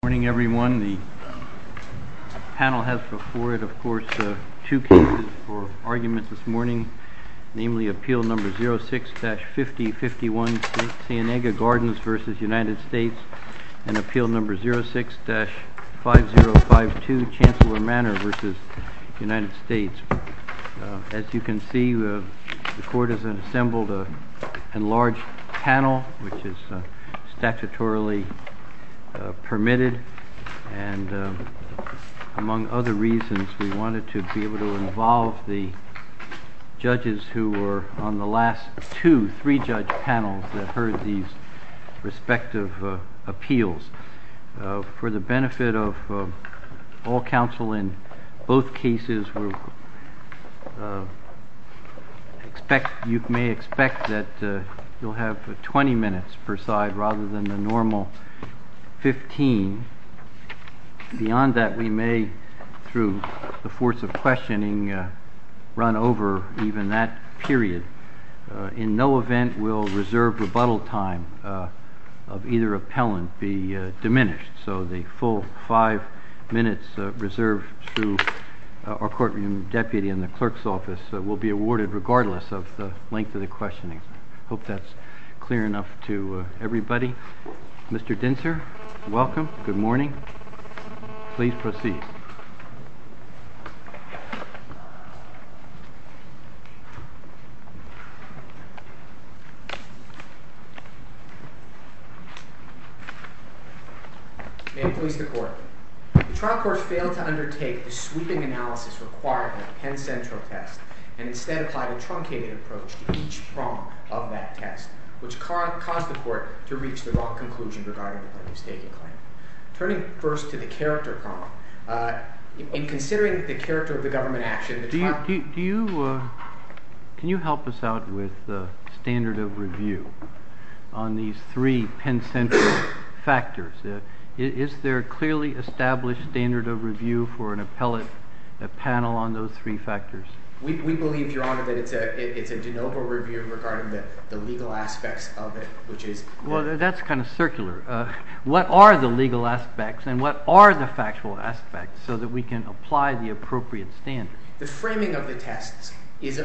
Good morning, everyone. The panel has before it, of course, two pieces for argument this morning, namely Appeal No. 06-5051, Cienega Gardens v. United States, and Appeal No. 06-5052, Chancellor Manor v. United States. As you can see, the Court has assembled a large panel, which is statutorily permitted, and among other reasons, we wanted to be able to involve the judges who were on the last two, three-judge panels that heard these respective appeals. For the benefit of all counsel in both cases, you may expect that you'll have 20 minutes per side rather than the normal 15. Beyond that, we may, through the force of questioning, run over even that period. In no event will reserve rebuttal time of either appellant be diminished. So the full five minutes reserved to our courtroom deputy in the clerk's office will be awarded regardless of the length of the questioning. I hope that's clear enough to everybody. Mr. Dintzer, welcome. Good morning. Please proceed. May it please the Court. The trial court failed to undertake the sweeping analysis required by the Penn Central test, and instead applied a truncated approach to each front of that test, which caused the Court to reach the wrong conclusion regarding the early statement. Turning first to the character problem, in considering the character of the government action… Can you help us out with the standard of review on these three Penn Central factors? Is there a clearly established standard of review for an appellate panel on those three factors? We believe, Your Honor, that it's a de novo review regarding the legal aspects of it, which is… Well, that's kind of circular. What are the legal aspects, and what are the factual aspects, so that we can apply the appropriate standards? The framing of the test is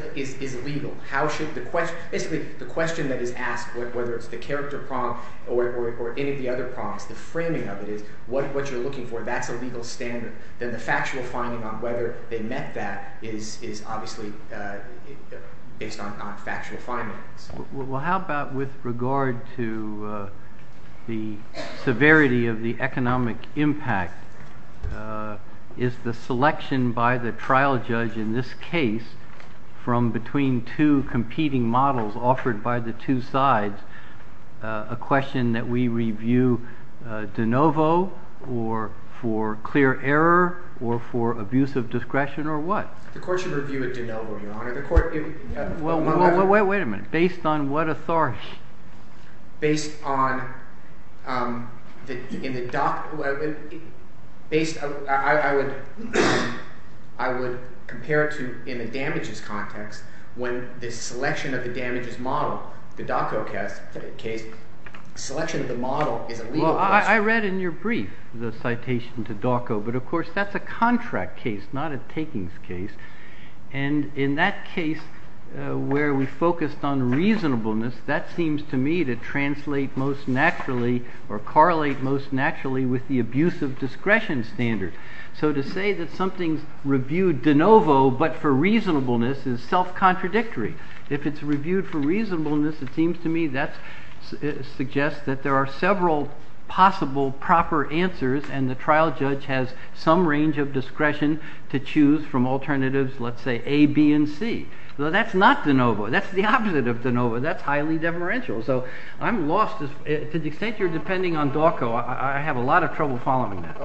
legal. The question that is asked, whether it's the character problem or any of the other problems, the framing of it is, what you're looking for, that's a legal standard. Then the factual finding on whether they met that is obviously based on factual findings. Well, how about with regard to the severity of the economic impact? Is the selection by the trial judge in this case, from between two competing models offered by the two sides, a question that we review de novo, or for clear error, or for abuse of discretion, or what? The court should review a de novo, Your Honor. Wait a minute. Based on what authority? Based on… I would compare it to, in the damages context, when the selection of the damages model, the DACO case, the selection of the model… I read in your brief the citation to DACO, but of course, that's a contract case, not a takings case. And in that case, where we focused on reasonableness, that seems to me to translate most naturally, or correlate most naturally with the abuse of discretion standards. So to say that something's reviewed de novo, but for reasonableness, is self-contradictory. If it's reviewed for reasonableness, it seems to me that suggests that there are several possible proper answers, and the trial judge has some range of discretion to choose from alternatives, let's say, A, B, and C. So that's not de novo. That's the opposite of de novo. That's highly deferential. So I'm lost. To the extent you're depending on DACO, I have a lot of trouble following that.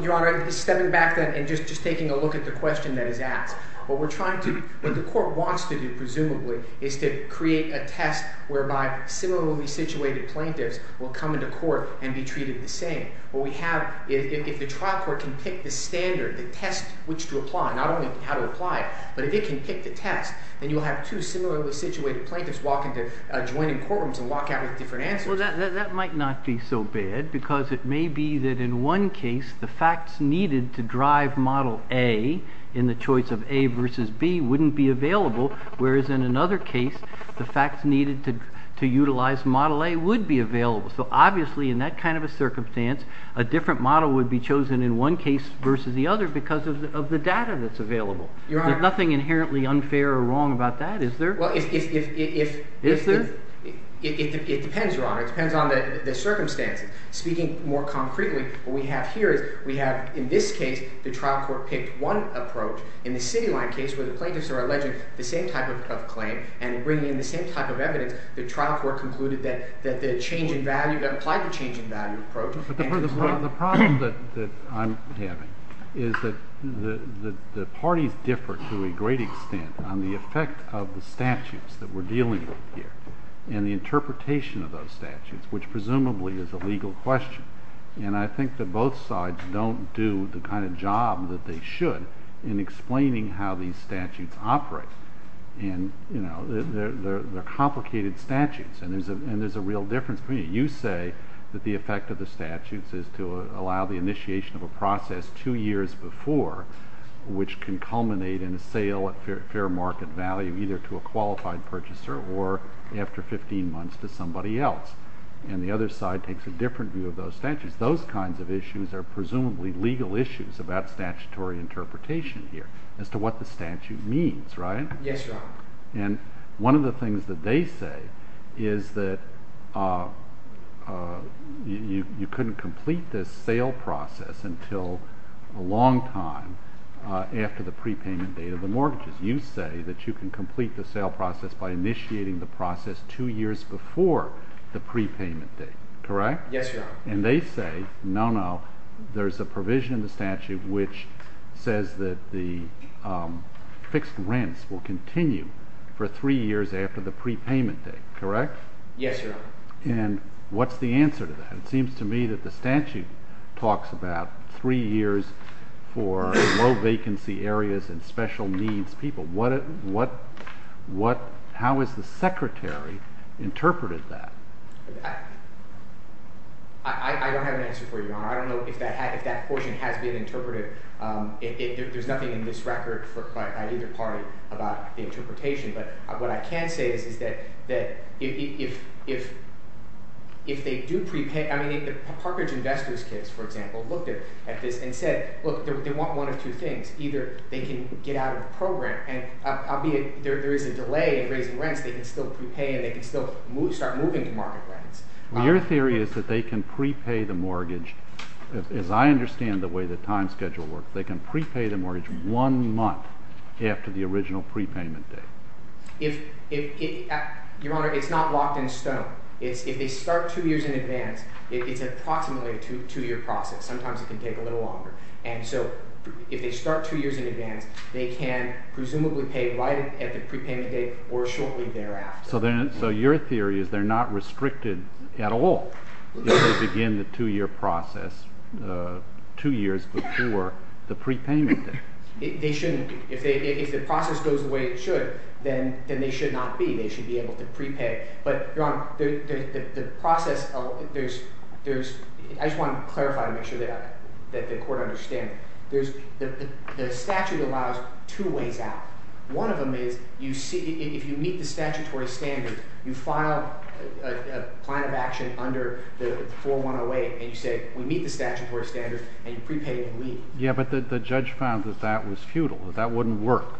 Your Honor, stepping back and just taking a look at the question that is asked, what we're trying to… what the court wants to do, presumably, is to create a test whereby similarly situated plaintiffs will come into court and be treated the same. What we have is, if the trial court can pick the standard, the test which to apply, not only how to apply it, but if it can pick the test, then you'll have two similarly situated plaintiffs walk into… join in courtrooms and walk out with different answers. Well, that might not be so bad, because it may be that in one case, the facts needed to drive Model A in the choice of A versus B wouldn't be available, whereas in another case, the facts needed to utilize Model A would be available. So obviously, in that kind of a circumstance, a different model would be chosen in one case versus the other because of the data that's available. Your Honor… There's nothing inherently unfair or wrong about that, is there? Is there? It depends, Your Honor. It depends on the circumstance. Speaking more concretely, what we have here is we have, in this case, the trial court picked one approach. In the City Line case, where the plaintiffs are alleging the same type of claim and bringing the same type of evidence, the trial court concluded that the change in value… that applied the change in value approach… The problem that I'm having is that the parties differ to a great extent on the effect of the statutes that we're dealing with here and the interpretation of those statutes, which presumably is a legal question. And I think that both sides don't do the kind of job that they should in explaining how these statutes operate. They're complicated statutes, and there's a real difference. You say that the effect of the statutes is to allow the initiation of a process two years before, which can culminate in a sale at fair market value, either to a qualified purchaser or after 15 months to somebody else. And the other side takes a different view of those statutes. Those kinds of issues are presumably legal issues about statutory interpretation here as to what the statute means, right? Yes, Your Honor. And one of the things that they say is that you couldn't complete this sale process until a long time after the prepayment date of the mortgages. You say that you can complete the sale process by initiating the process two years before the prepayment date, correct? Yes, Your Honor. And they say, no, no, there's a provision in the statute which says that the fixed rents will continue for three years after the prepayment date, correct? Yes, Your Honor. And what's the answer to that? It seems to me that the statute talks about three years for low vacancy areas and special needs people. How has the Secretary interpreted that? I don't have an answer for you, Your Honor. I don't know if that portion has been interpreted. There's nothing in this record for either party about the interpretation. But what I can say is that if they do prepay, I mean, if the Park Ridge Investors case, for example, looked at this and said, look, they want one of two things. Either they can get out of the program. There is a delay in raising rents. They can still prepay and they can still start moving to market rents. Your theory is that they can prepay the mortgage. As I understand the way the time schedule works, they can prepay the mortgage one month after the original prepayment date. Your Honor, it's not block and stone. If they start two years in advance, it's approximately a two-year process. Sometimes it can take a little longer. And so if they start two years in advance, they can presumably pay right at the prepayment date or shortly thereafter. So your theory is they're not restricted at all if they begin the two-year process two years before the prepayment date. If the process goes the way it should, then they should not be. They should be able to prepay. Your Honor, I just want to clarify and make sure that the court understands. The statute allows two ways out. One of them is if you meet the statute or standard, you file a plan of action under 4108 and you say we meet the statute or standard and you prepay and leave. Yeah, but the judge found that that was futile. That wouldn't work.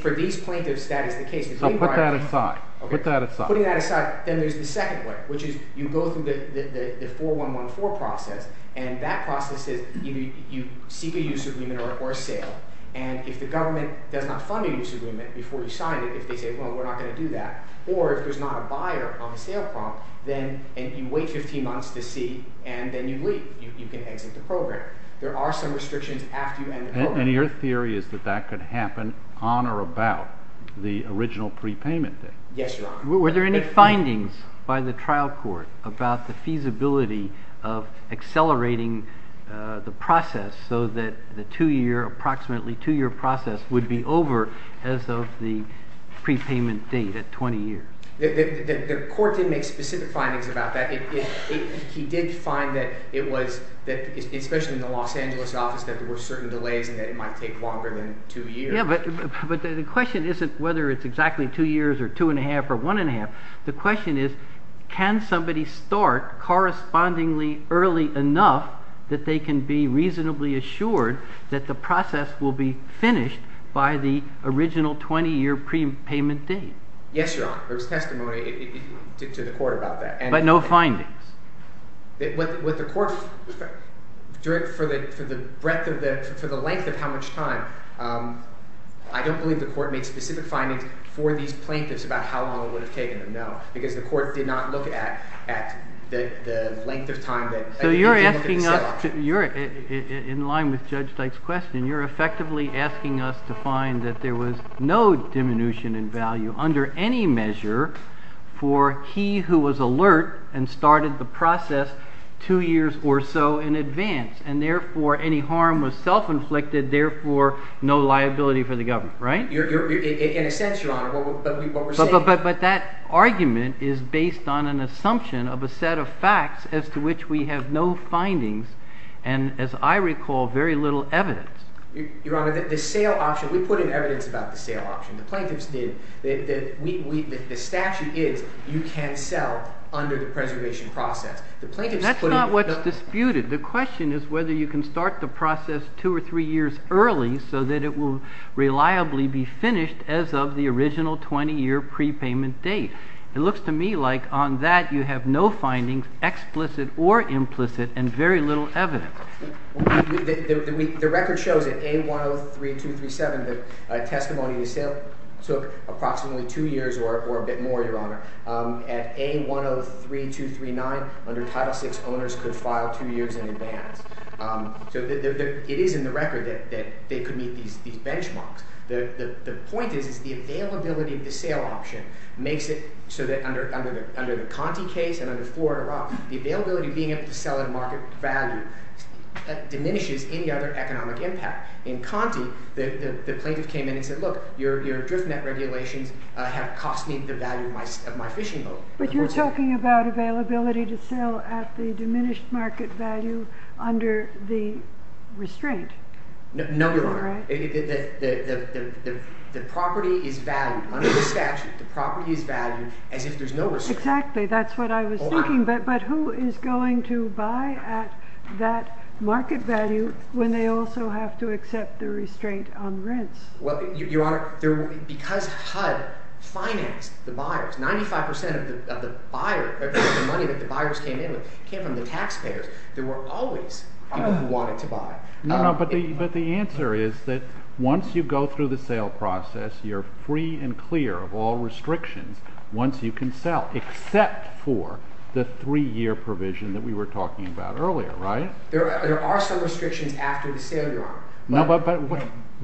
For these plaintiffs, that is the case. Put that aside. Put that aside. Then there's the second way, which is you go through the 4114 process, and that process is you seek a use agreement or a sale. And if the government does not fund a use agreement before you sign it, if they say, well, we're not going to do that, or if there's not a buyer on the sale prompt, then you wait 15 months to see, and then you leave. You can exit the program. There are some restrictions after you end the program. And your theory is that that could happen on or about the original prepayment date. Yes, Your Honor. Were there any findings by the trial court about the feasibility of accelerating the process so that the two-year, approximately two-year process would be over as of the prepayment date at 20 years? The court didn't make specific findings about that. He did find that it was, especially in the Los Angeles office, that there were certain delays and that it might take longer than two years. Yeah, but the question isn't whether it's exactly two years or two and a half or one and a half. The question is, can somebody start correspondingly early enough that they can be reasonably assured that the process will be finished by the original 20-year prepayment date? Yes, Your Honor. There's testimony to the court about that. But no findings? With the court's direct, for the length of how much time, I don't believe the court made specific findings for these plaintiffs about how long it would have taken. No, because the court did not look at the length of time that it would have taken. In line with Judge Stites' question, you're effectively asking us to find that there was no diminution in value under any measure for he who was alert and started the process two years or so in advance, and therefore any harm was self-inflicted, therefore no liability for the government, right? In a sense, Your Honor, that's what we're saying. But that argument is based on an assumption of a set of facts as to which we have no findings and, as I recall, very little evidence. Your Honor, the sale option, we put in evidence about the sale option. The plaintiffs did. The statute is you can't sell under the preservation process. That's not what's disputed. The question is whether you can start the process two or three years early so that it will reliably be finished as of the original 20-year prepayment date. It looks to me like on that you have no findings, explicit or implicit, and very little evidence. The record shows that A103237, the testimony of the sale, took approximately two years or a bit more, Your Honor. At A103239, under Title VI, owners could file two years in advance. So it is in the record that they could meet these benchmarks. The point is the availability of the sale option makes it so that under the Conte case and under Ford and Roth, the availability of being able to sell at market value diminishes any other economic impact. In Conte, the plaintiffs came in and said, look, your drift net regulation has cost me the value of my fishing boat. But you're talking about availability to sell at the diminished market value under the restraint. No, Your Honor. The property is valued under the statute. The property is valued as if there's no restraint. Exactly. That's what I was thinking. But who is going to buy at that market value when they also have to accept the restraint on rents? Well, Your Honor, because HUD financed the buyers, 95% of the buyers' money that the buyers came in with came from the taxpayers. There were always people who wanted to buy. No, but the answer is that once you go through the sale process, you're free and clear of all restrictions once you can sell, except for the three-year provision that we were talking about earlier, right? There are some restrictions after the sale, Your Honor. No, but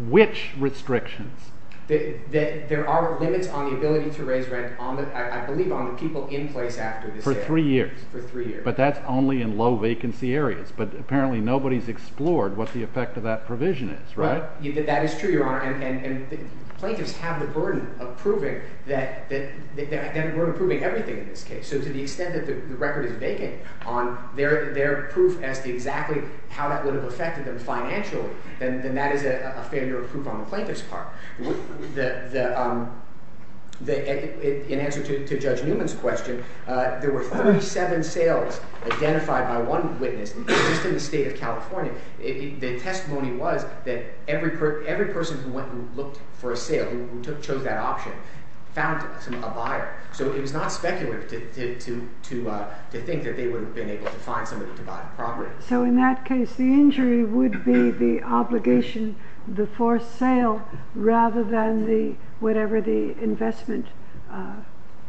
which restrictions? There are limits on the ability to raise rent, I believe, on the people in place after the sale. For three years. For three years. But that's only in low-vacancy areas. But apparently nobody's explored what the effect of that provision is, right? That is true, Your Honor. And plaintiffs have the burden of proving that we're improving everything in this case. So to the extent that the record is vacant on their proof as to exactly how that would have affected them financially, then that is a failure of proof on the plaintiff's part. In answer to Judge Newman's question, there were 47 sales identified by one witness. In the state of California, the testimony was that every person who went and looked for a sale, who chose that option, found a buyer. So it is not speculative to think that they would have been able to find somebody to buy the property. So in that case, the injury would be the obligation, the forced sale, rather than whatever the investment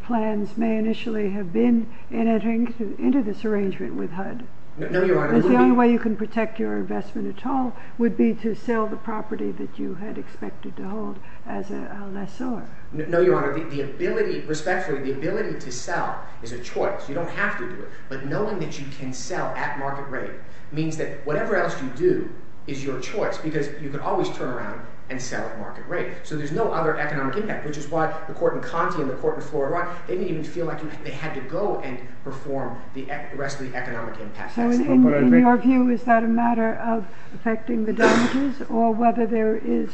plans may initially have been in entering into this arrangement with HUD. No, Your Honor. The only way you can protect your investment at all would be to sell the property that you had expected to hold as a lessor. No, Your Honor. Respectfully, the ability to sell is a choice. You don't have to do it. But knowing that you can sell at market rate means that whatever else you do is your choice because you can always turn around and sell at market rate. So there's no other economic impact, which is why the Court of Economy and the Court before Iraq, they didn't feel like they had to go and perform the rest of the economic impact. So in your view, is that a matter of affecting the damages or whether there is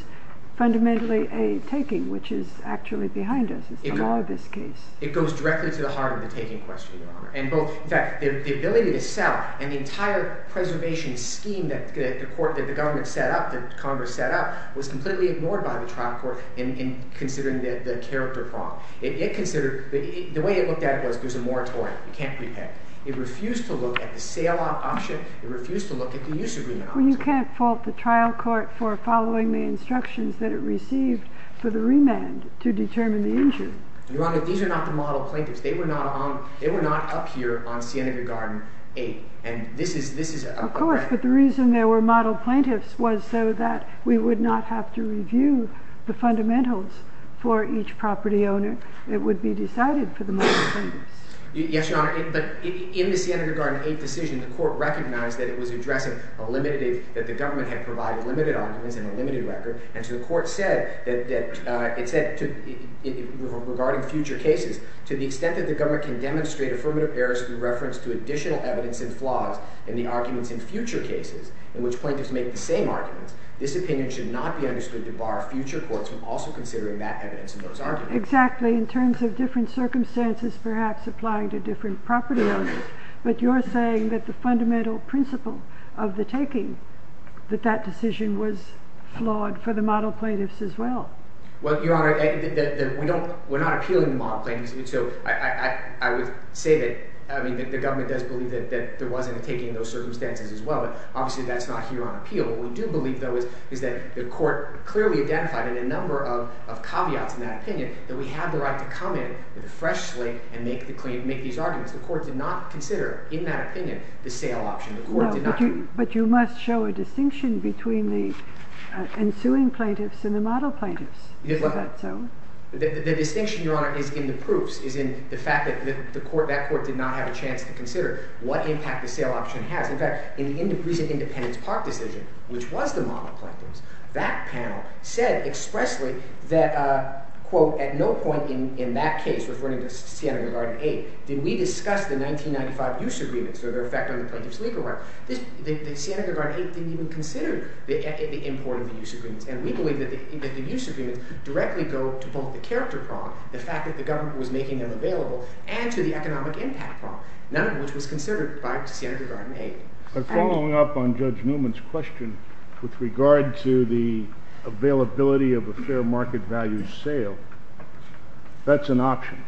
fundamentally a taking, which is actually behind us in all of this case? It goes directly to the harm of the taking question, Your Honor. In fact, the ability to sell and the entire preservation scheme that the government set up, that Congress set up, was completely ignored by the trial court in considering the character problem. The way it looked at it, it was a moratorium. You can't do that. It refused to look at the sale-off option. It refused to look at the use of remand. Well, you can't fault the trial court for following the instructions that it received for the remand to determine the injury. Your Honor, these are not the model plaintiffs. They were not up here on Cienega Garden 8. And this is a fact. Of course. But the reason they were model plaintiffs was so that we would not have to review the fundamentals for each property owner. It would be decided for the model plaintiffs. Yes, Your Honor. But in the Cienega Garden 8 decision, the court recognized that the government had provided limited arguments and a limited record. And so the court said, regarding future cases, to the extent that the government can demonstrate affirmative errors through reference to additional evidence and flaws in the arguments in future cases, in which plaintiffs make the same arguments, this opinion should not be understood to bar future courts from also considering that evidence in those arguments. Exactly. In terms of different circumstances, perhaps applying to different property owners. But you're saying that the fundamental principle of the taking, that that decision was flawed for the model plaintiffs as well. Well, Your Honor, we're not appealing the model plaintiffs. So I would say that the government does believe that there wasn't a taking in those circumstances as well. Obviously, that's not here on appeal. What we do believe, though, is that the court clearly identified in a number of caveats in that opinion that we have the right to come in freshly and make these arguments. The court did not consider, in that opinion, the sale option as well. But you must show a distinction between the ensuing plaintiffs and the model plaintiffs. The distinction, Your Honor, is in the proofs. It's in the fact that that court did not have a chance to consider what impact the sale option had. In fact, in the recent Independence Park decision, which was the model plaintiffs, that panel said expressly that, quote, at no point in that case, referring to Siena-Guardian 8, did we discuss the 1995 use agreements that are affecting the plaintiff's legal rights. Siena-Guardian 8 didn't even consider the import of the use agreements. And we believe that the use agreements directly go to both the character problem, the fact that the government was making them available, and to the economic impact problem. None of which was considered by Siena-Guardian 8. But following up on Judge Newman's question with regard to the availability of a fair market value sale, that's an option.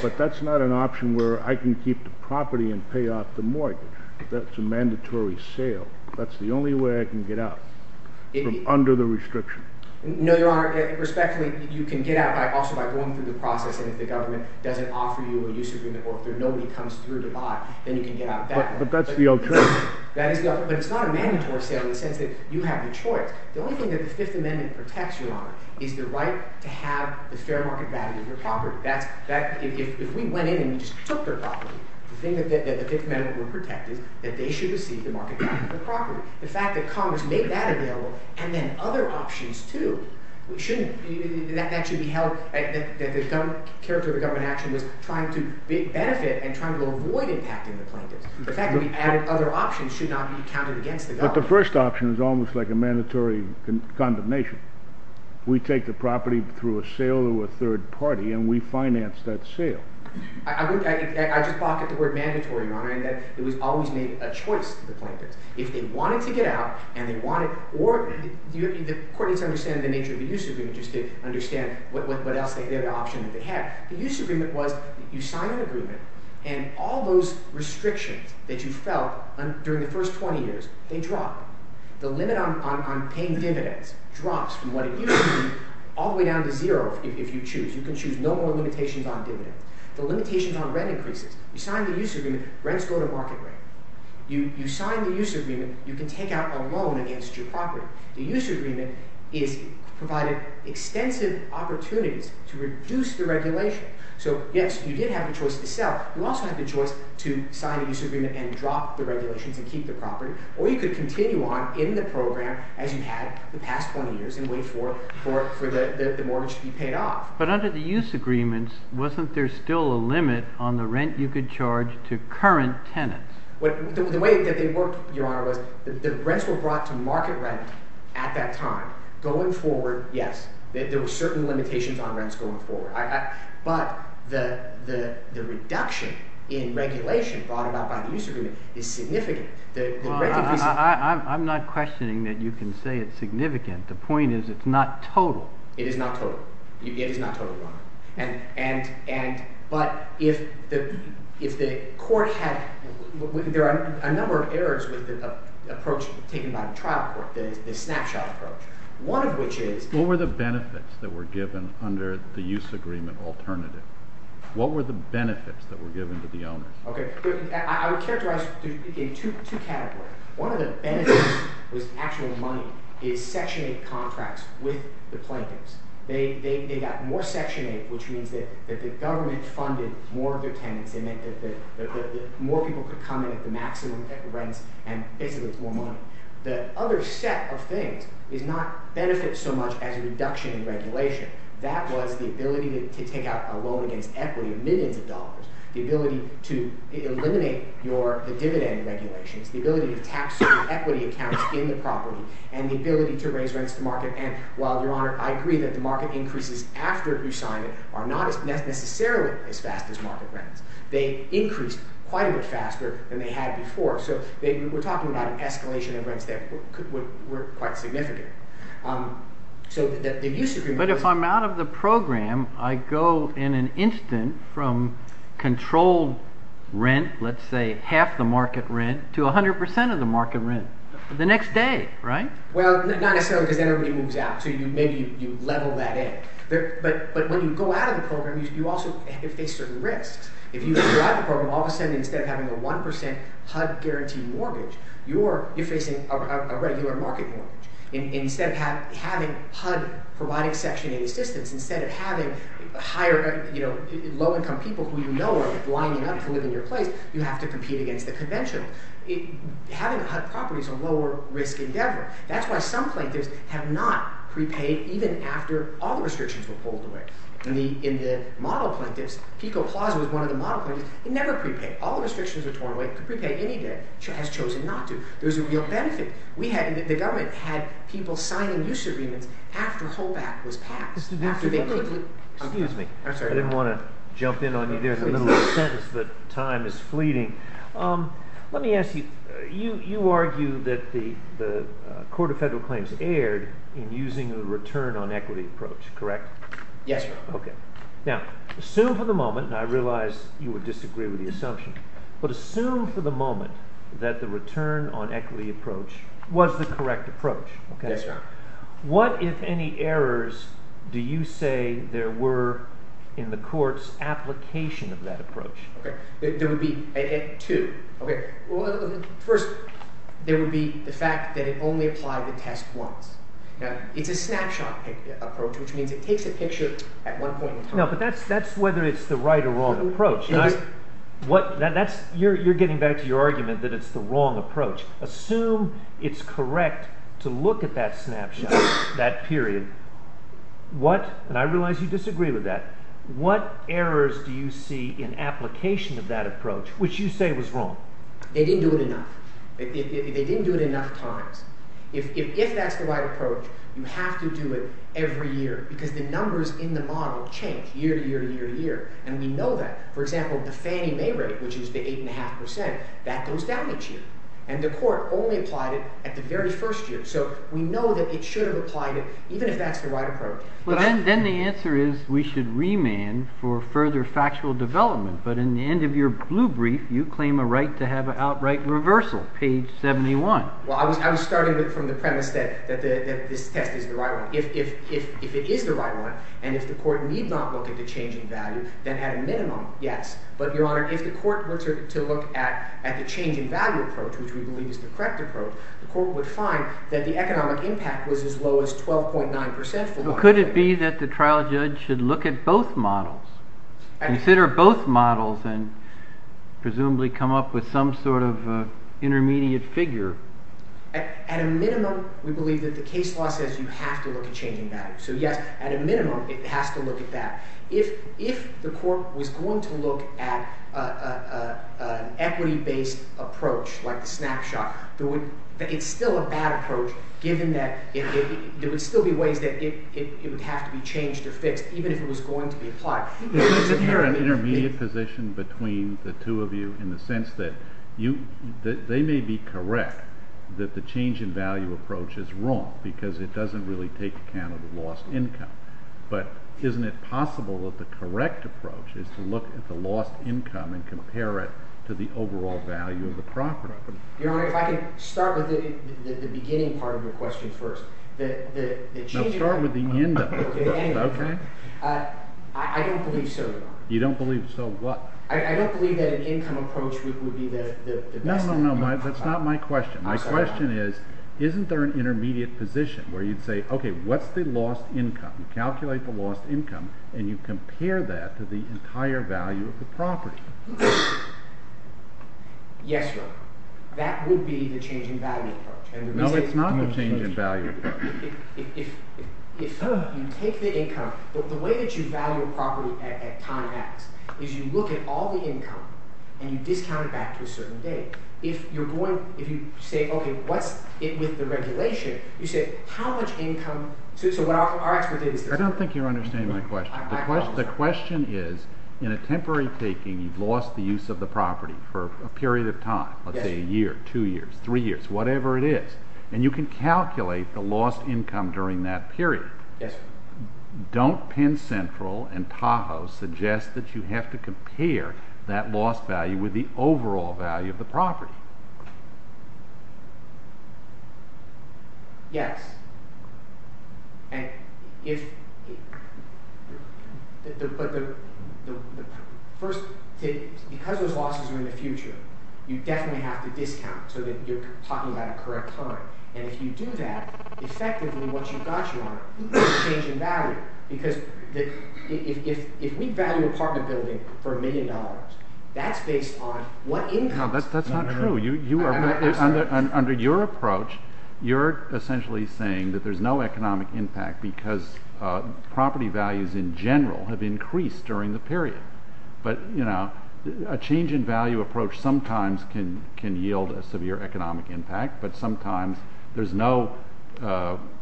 But that's not an option where I can keep the property and pay off the mortgage. That's a mandatory sale. That's the only way I can get out from under the restriction. No, Your Honor. Respectfully, you can get out also by going through the process. If the government doesn't offer you a use agreement, or if nobody comes through the box, then you can get out of that. But that's the only choice. But it's not a mandatory sale in the sense that you have the choice. The only thing that the Fifth Amendment protects you on is the right to have the fair market value of your property. If we went in and we just took their property, the thing that the Fifth Amendment will protect you, that they should receive the market value of the property. The fact that Congress made that available, and then other options, too, we shouldn't. That should be held that there's no character of government action that's trying to make benefit and trying to avoid impacting the property. The fact that we've added other options should not be counted against the government. But the first option is almost like a mandatory condemnation. We take the property through a sale to a third party, and we finance that sale. I just thought that the word mandatory, Your Honor, in that it was always made a choice to the plaintiff. If they wanted to get out, and they wanted, the court didn't understand the nature of the use agreement just to understand what else the other option that they had. The use agreement was you sign an agreement, and all those restrictions that you felt during the first 20 years, they drop. The limit on paying dividends drops from what it used to be all the way down to zero if you choose. You can choose no more limitations on dividends. The limitation on rent increases. You sign the use agreement, rents go to market rate. You sign the use agreement, you can take out a loan against your property. The use agreement is providing extensive opportunities to reduce the regulation. So, yes, you did have the choice to sell. You also have the choice to sign the use agreement and drop the regulation to keep the property. Or you could continue on in the program as you had the past 20 years and wait for the mortgage to be paid off. But under the use agreements, wasn't there still a limit on the rent you could charge to current tenants? The way that they worked, Your Honor, was the rents were brought to market rates at that time. Going forward, yes, there were certain limitations on rents going forward. But the reduction in regulation brought about by the use agreement is significant. I'm not questioning that you can say it's significant. The point is it's not total. It is not total. It is not total, Your Honor. But if the court had— there are a number of errors with the approach taken by the trial court, the snapshot approach. One of which is— What were the benefits that were given under the use agreement alternative? What were the benefits that were given to the owner? I would characterize it in two categories. One of the benefits with actual money is Section 8 contracts with the plaintiffs. They got more Section 8, which means that the government funded more of the tenants and that more people could come in at the maximum rent and take away more money. The other set of things did not benefit so much as a reduction in regulation. That was the ability to take out a loan against equity of millions of dollars, the ability to eliminate your dividend regulations, the ability to tax equity accounts in the property, and the ability to raise rents to market ends. While, Your Honor, I agree that the market increases after you sign it are not necessarily as fast as market rents. They increase quite a bit faster than they had before. So we're talking about an escalation of rents that were quite significant. But if I'm out of the program, I go in an instant from controlled rent, let's say half the market rent, to 100 percent of the market rent the next day, right? Well, not necessarily, because then everything moves out, so maybe you level that in. But when you go out of the program, you also face certain risks. If you go out of the program, all of a sudden, instead of having a 1 percent HUD-guaranteed mortgage, you're facing a regular market mortgage. Instead of having HUD provide Section 8 assistance, instead of having lower-income people who you know are willing enough to live in your place, you have to compete against the convention. Having HUD property is a lower-risk endeavor. That's why some plaintiffs have not prepaid even after all restrictions were pulled away. In the model plaintiffs, Keiko Plaza was one of the model plaintiffs, they never prepaid. All restrictions were torn away. Prepaid any day, has chosen not to. There's a real benefit. The government had people signing new subpoenas after the whole act was passed. Excuse me, I didn't want to jump in on you there in the middle of a sentence, but time is fleeting. Let me ask you, you argue that the Court of Federal Claims erred in using the return on equity approach, correct? Yes, Your Honor. Okay. Now, assume for the moment, and I realize you would disagree with the assumption, but assume for the moment that the return on equity approach was the correct approach. Yes, Your Honor. What, if any, errors do you say there were in the Court's application of that approach? There would be two. First, there would be the fact that it only applies in Test 1. It's a snapshot approach, which means it takes a picture at one point in time. No, but that's whether it's the right or wrong approach. You're getting back to your argument that it's the wrong approach. Assume it's correct to look at that snapshot, that period. What, and I realize you disagree with that, what errors do you see in application of that approach, which you say was wrong? They didn't do it enough. They didn't do it enough times. If that's the right approach, you have to do it every year because the numbers in the model change year, year, year, year. And we know that. For example, the Fannie Mae rate, which is the 8.5%, that goes down each year. And the Court only applied it at the very first year. So we know that it should have applied it, even if that's the right approach. Then the answer is we should remand for further factual development. But in the end of your blue brief, you claim a right to have an outright reversal, page 71. Well, I'm starting from the premise that this text is the right one. If it is the right one, and if the Court need not look at the change in value, then at a minimum, yes. But, Your Honor, if the Court were to look at the change in value approach, which we believe is the correct approach, the Court would find that the economic impact was as low as 12.9%. Well, could it be that the trial judge should look at both models, consider both models, and presumably come up with some sort of intermediate figure? At a minimum, we believe that the case law says you have to look at change in value. So, yes, at a minimum, it has to look at that. If the Court was going to look at an equity-based approach, like the snapshot, it's still a bad approach, given that there would still be ways that it would have to be changed or fixed, even if it was going to be applied. You're in an intermediate position between the two of you, in the sense that they may be correct that the change in value approach is wrong, because it doesn't really take account of the lost income. But isn't it possible that the correct approach is to look at the lost income and compare it to the overall value of the property? If I could start with the beginning part of your question first. No, start with the end of it. I don't believe so, though. You don't believe so what? I don't believe that an income approach would be the best one. No, no, no, that's not my question. My question is, isn't there an intermediate position where you'd say, okay, what's the lost income? Calculate the lost income, and you compare that to the entire value of the property. Yes, sir. That would be the change in value approach. No, it's not the change in value approach. If you take the income, the way that you value a property at time f, is you look at all the income, and you discount it back to a certain date. If you're going, if you say, okay, what's it with the regulation, you say, how much income does this allow for our expertise? I don't think you understand my question. The question is, in a temporary taking, you've lost the use of the property for a period of time, let's say a year, two years, three years, whatever it is, and you can calculate the lost income during that period. Yes, sir. Don't Penn Central and Tahoe suggest that you have to compare that lost value with the overall value of the property. Yes. And if... First, because those losses are in the future, you definitely have to discount so that you're talking about a correct time. And if you do that, effectively, what you've got you on is the change in value. Because if we value an apartment building for a million dollars, that's based on what income... No, that's not true. Under your approach, you're essentially saying that there's no economic impact because property values in general have increased during the period. But, you know, a change in value approach sometimes can yield a severe economic impact, but sometimes there's no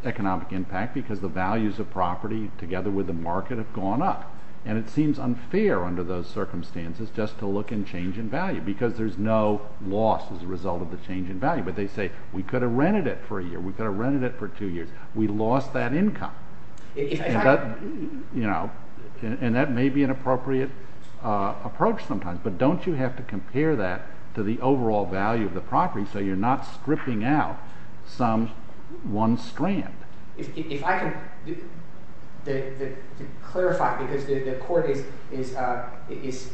economic impact because the values of property together with the market have gone up. And it seems unfair under those circumstances just to look at change in value because there's no loss as a result of the change in value. But they say, we could have rented it for a year. We could have rented it for two years. We lost that income. You know, and that may be an appropriate approach sometimes, but don't you have to compare that to the overall value of the property so you're not stripping out some one strand? If I can clarify, because the court is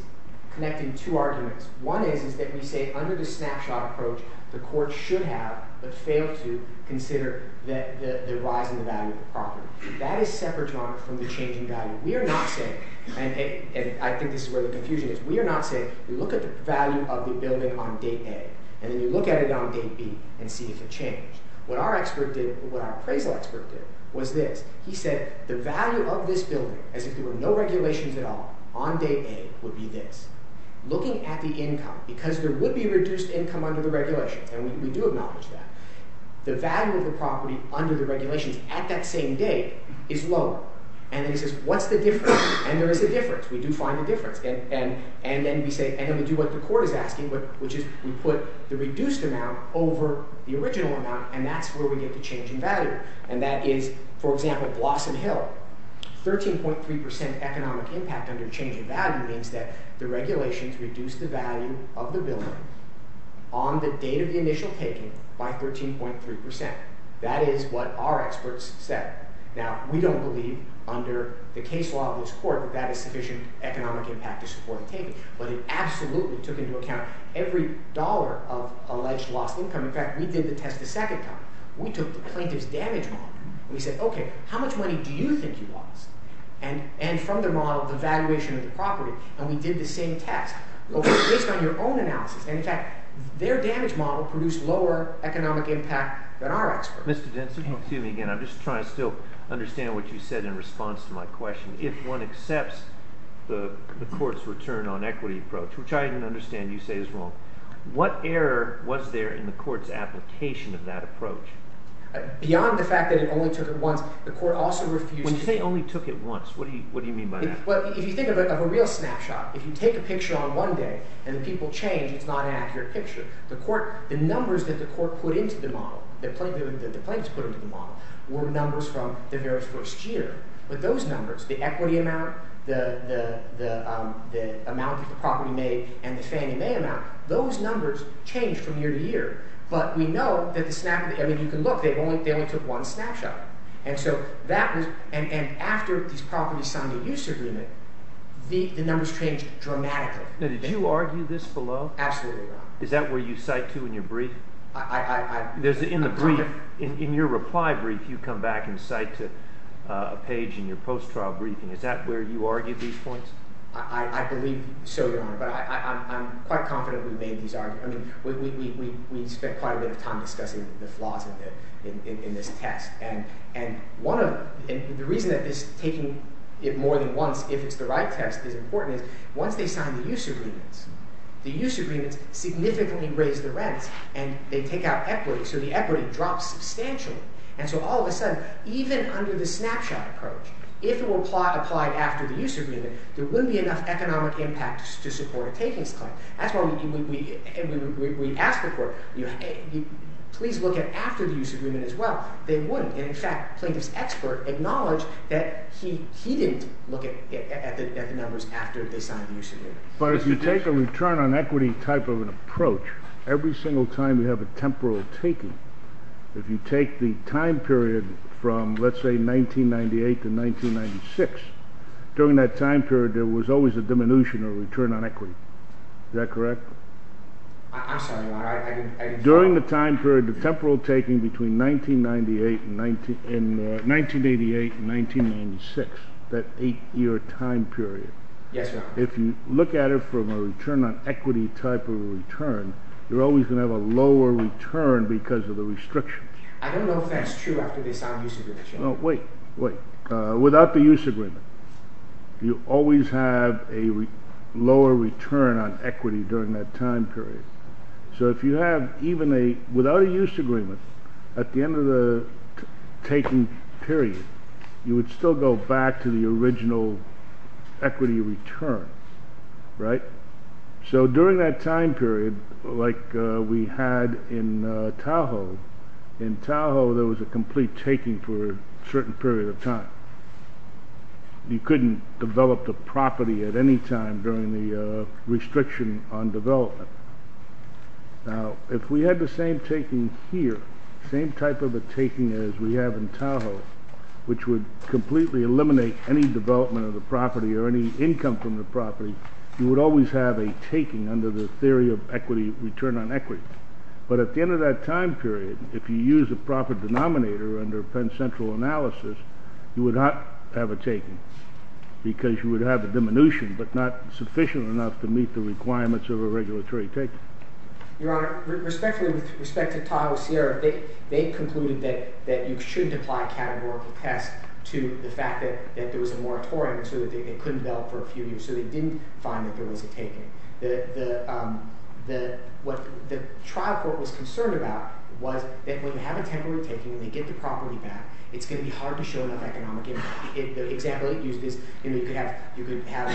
connecting two arguments. One is that you say, under the snapshot approach, the court should have, but failed to, consider the rise in the value of the property. That is separate from the change in value. We are not saying, and I think this is really confusing, we are not saying, we look at the value of the building on date A, and then we look at it on date B and see if it changed. What our expert did, what our appraisal expert did, was this. He said, the value of this building, as if there were no regulations at all, on date A would be this. Looking at the income, because there would be reduced income under the regulation, and we do acknowledge that. The value of the property under the regulation at that same date is lower. And he says, what's the difference? And there is a difference. We do find a difference. And then we say, and then we do what the court is asking, which is we put the reduced amount over the original amount, and that's where we get the change in value. And that is, for example, Blossom Hill, 13.3% economic impact under change in value means that the regulations reduce the value of the building on the date of the initial taking by 14.3%. That is what our experts said. Now, we don't believe, under the case law of this court, that that is sufficient economic impact to support a payment. But it absolutely took into account every dollar of a life's lost income. In fact, we did the test a second time. We took the plaintiff's damage model. We said, okay, how much money do you think he lost? And from the model, the valuation of the property, and we did the same test. But based on your own analysis, in fact, their damage model produced lower economic impact than our experts. Mr. Jensen, excuse me again. I'm just trying to still understand what you said in response to my question. If one accepts the court's return on equity approach, which I understand you say is wrong, what error was there in the court's application of that approach? When you say only took it once, what do you mean by that? Those numbers change from year to year. But we know that the snapshot – I mean, you can look. They only took one snapshot. And so that was – and after these properties' time of use agreement, the numbers changed dramatically. Did you argue this below? Absolutely, no. Is that where you cite to in your brief? I – In the brief, in your reply brief, you come back and cite to a page in your post-trial briefing. Is that where you argue these points? I believe so, Your Honor. But I'm quite confident we made these arguments. I mean, we spent quite a bit of time discussing the flaws in this text. And one of – and the reason that this taking it more than once, if it's the right test, is important. One thing is not in the use agreement. The use agreement significantly raises the rent, and they take out equity. So the equity drops substantially. And so all of a sudden, even under the snapshot approach, if it were applied after the use agreement, there wouldn't be enough economic impact to support a taking claim. That's why we asked the court, you know, hey, please look at after the use agreement as well. They wouldn't. And, in fact, Clayton's expert acknowledged that he didn't look at the numbers after they signed the use agreement. But if you take a return on equity type of an approach, every single time you have a temporal taking, if you take the time period from, let's say, 1998 to 1996, during that time period there was always a diminution of return on equity. Is that correct? I'm sorry. During the time period of temporal taking between 1988 and 1996, that eight-year time period, you're always going to have a lower return because of the restrictions. I don't know if that's true after the use agreement. Well, wait, wait. Without the use agreement, you always have a lower return on equity during that time period. So if you have even a, without a use agreement, at the end of the taking period, you would still go back to the original equity return, right? So during that time period, like we had in Tahoe, in Tahoe there was a complete taking for a certain period of time. You couldn't develop the property at any time during the restriction on development. Now, if we had the same taking here, same type of a taking as we have in Tahoe, which would completely eliminate any development of the property or any income from the property, you would always have a taking under the theory of equity return on equity. But at the end of that time period, if you use a profit denominator under Penn Central analysis, you would not have a taking because you would have a diminution but not sufficient enough to meet the requirements of a regulatory taking. Your Honor, respectfully, respect to Tahoe's here, they concluded that you should apply a categorical test to the fact that there was a moratorium so that they couldn't build for a few years. So they didn't find a good way to take it. The trial court was concerned about was that when you have a temporary taking and you get the property back, it's going to be hard to show enough economic impact. The example they used is if you have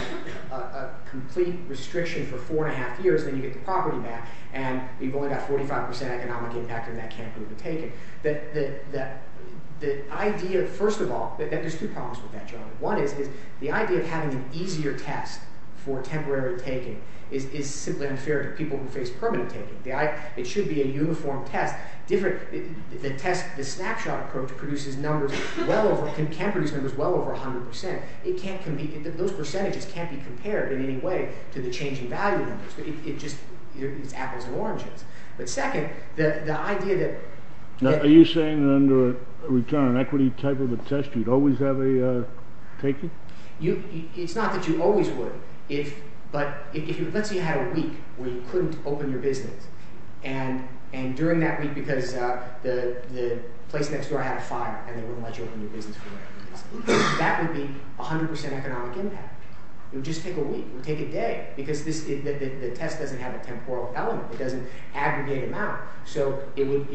a complete restriction for four and a half years and you get the property back and you've only got 45% economic impact in that temporary taking. The idea, first of all, there's two problems with that, Your Honor. One is the idea of having an easier test for temporary taking is simply unfair to people who face permanent taking. It should be a uniform test. The snapshot approach produces numbers well over, can produce numbers well over 100%. It can't compete, those percentages can't be compared in any way to the changing value numbers. It's just apples and oranges. But second, the idea that... Are you saying that under a return equity type of a test you'd always have a taking? It's not that you always would. But let's say you had a week where you couldn't open your business. And during that week, because the place next door had a fire and they wouldn't let you open your business. That would be 100% economic impact. It would just take a week. It would take a day. Because the test doesn't have a temporal element. It doesn't aggregate amount. So it would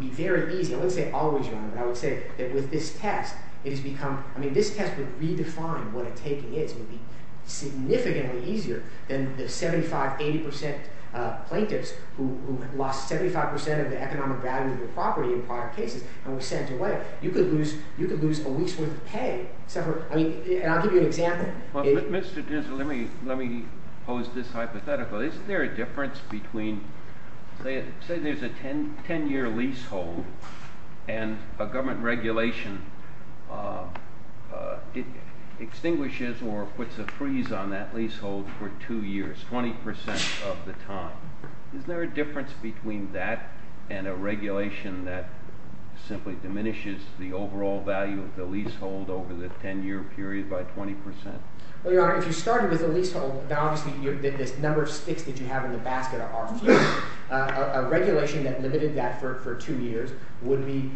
be very easy. I wouldn't say always, Your Honor. I would say that with this test, it has become... I mean, this test would redefine what a taking is. It would be significantly easier than the 75, 80% plaintiffs who lost 75% of the economic value of the property in the prior case. It extends away. You could lose a lease with pay. And I'll give you an example. Mr. Dinsel, let me pose this hypothetical. Isn't there a difference between... Say there's a 10-year leasehold and a government regulation extinguishes or puts a freeze on that leasehold for two years, 20% of the time. Is there a difference between that and a regulation that simply diminishes the overall value of the leasehold over the 10-year period by 20%? Well, Your Honor, if you started with a leasehold, obviously, the number of sticks that you have in the back there are... A regulation that limited that for two years would be...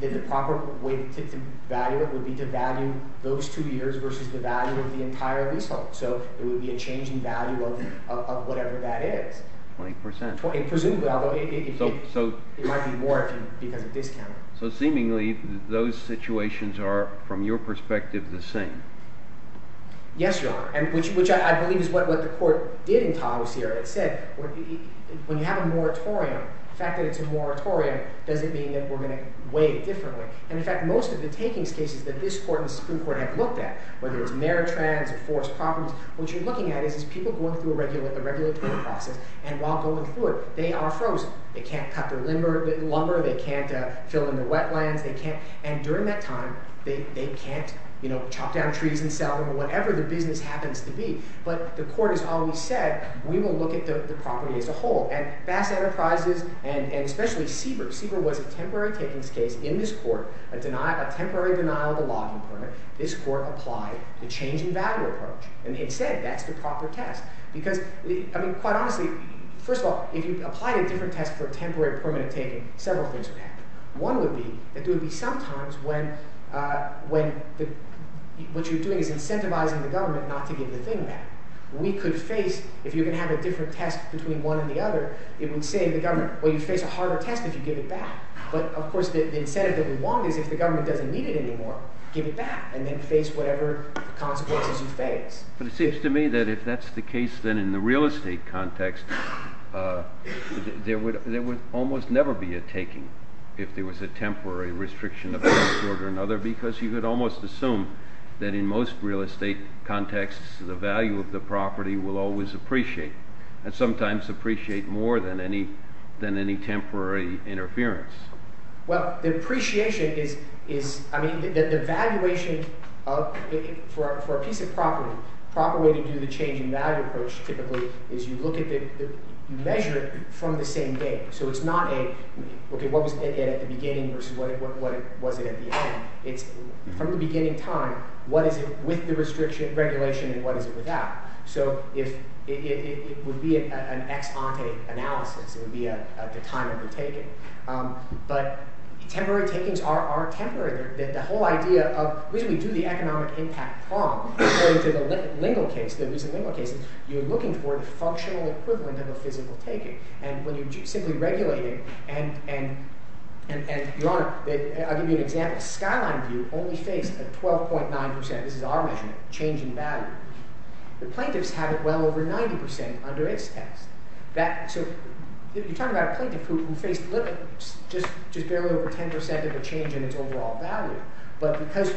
The proper way to value it would be to value those two years versus the value of the entire leasehold. So it would be a change in value of whatever that is. 20%. Presumably, although it might be more if you have a discount. So seemingly, those situations are, from your perspective, the same. Yes, Your Honor, which I believe is what the court did in Congress here. It said, when you have a moratorium, the fact that it's a moratorium doesn't mean that we're going to weigh it differently. And in fact, most of the takings cases that this court and this Supreme Court have looked at, whether it's merit trends or forest problems, what you're looking at is people going through a regulatory process, and while going through it, they are frozen. They can't cut their lumber, they can't fill in the wetlands, and during that time, they can't chop down trees and sell them, or whatever the business happens to be. But the court has always said, we will look at the property as a whole. And fast enterprises, and especially CBER, CBER was a temporary taking case in this court, a temporary denial of a logging permit. This court applied the change in value approach. And they said, that's the proper test. Because, I mean, quite honestly, first of all, if you apply a different test for a temporary permanent taking, several things would happen. One would be that there would be some times when what you're doing is incentivizing the government not to do the thing that we could face if you're going to have a different test between one and the other, it would say to the government, well, you face a harder test if you give it back. But, of course, the incentive that we want is if the government doesn't need it anymore, give it back, and then face whatever consequences you face. But it seems to me that if that's the case, then in the real estate context, there would almost never be a taking if there was a temporary restriction of that court or another, because you could almost assume that in most real estate contexts, the value of the property will always appreciate. And sometimes appreciate more than any temporary interference. Well, the appreciation is, I mean, the valuation for a piece of property, the proper way to do the change in value approach, typically, is you look at it, you measure it from the same day. So it's not a, okay, what was it at the beginning versus what was it at the end. It's from the beginning time, what is it with the restriction and regulation and what is it without? So it would be an ex-ante analysis. It would be a time of the taking. But temporary takings are temporary. The whole idea of, really do the economic impact wrong according to the legal case, the existing legal cases, you're looking for a functional equivalent of a physical taking. And when you simply regulate it, and I'll give you an example. Skyline View only states that 12.9%, this is our measurement, of change in value. The plaintiffs had it well over 90% under ex-ante. So if you're talking about a plaintiff who faced literally just barely a potential set of a change in its overall value, but because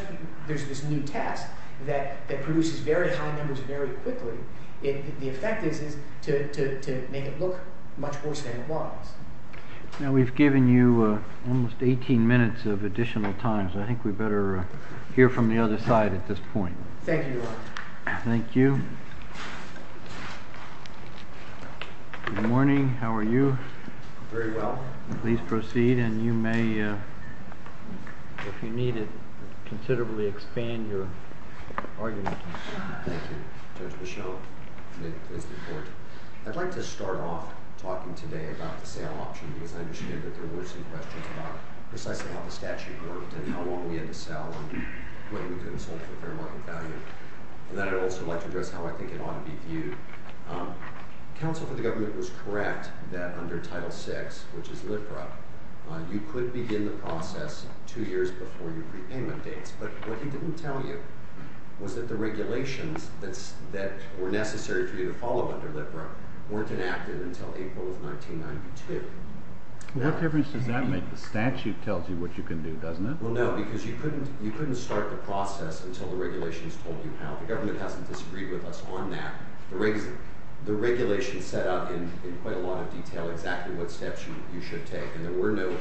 there's this new test that produces very high numbers very quickly, it could be effective to make it look much more standardized. And we've given you almost 18 minutes of additional time, so I think we better hear from the other side at this point. Thank you. Thank you. Good morning. How are you? Very well. Please proceed and you may, if you need it, considerably expand your argument. Thank you. I'd like to start off talking today about the sale option, because I understand that there are really some questions about precisely how the statute works and how long we have to sell the plaintiff in terms of the fair market value. And I'd also like to address how I think it ought to be viewed. The counsel for the government was correct that under Title VI, which is LIFRA, you could begin the process two years before your prepayment dates, but what he didn't tell you was that the regulations that were necessary for you to follow under LIFRA weren't enacted until April of 1992. Not every statute tells you what you can do, doesn't it? Well, no, because you couldn't start the process until the regulations told you how. The government hasn't disagreed with us on that. The regulations set out in quite a lot of detail exactly what steps you should take, and there were no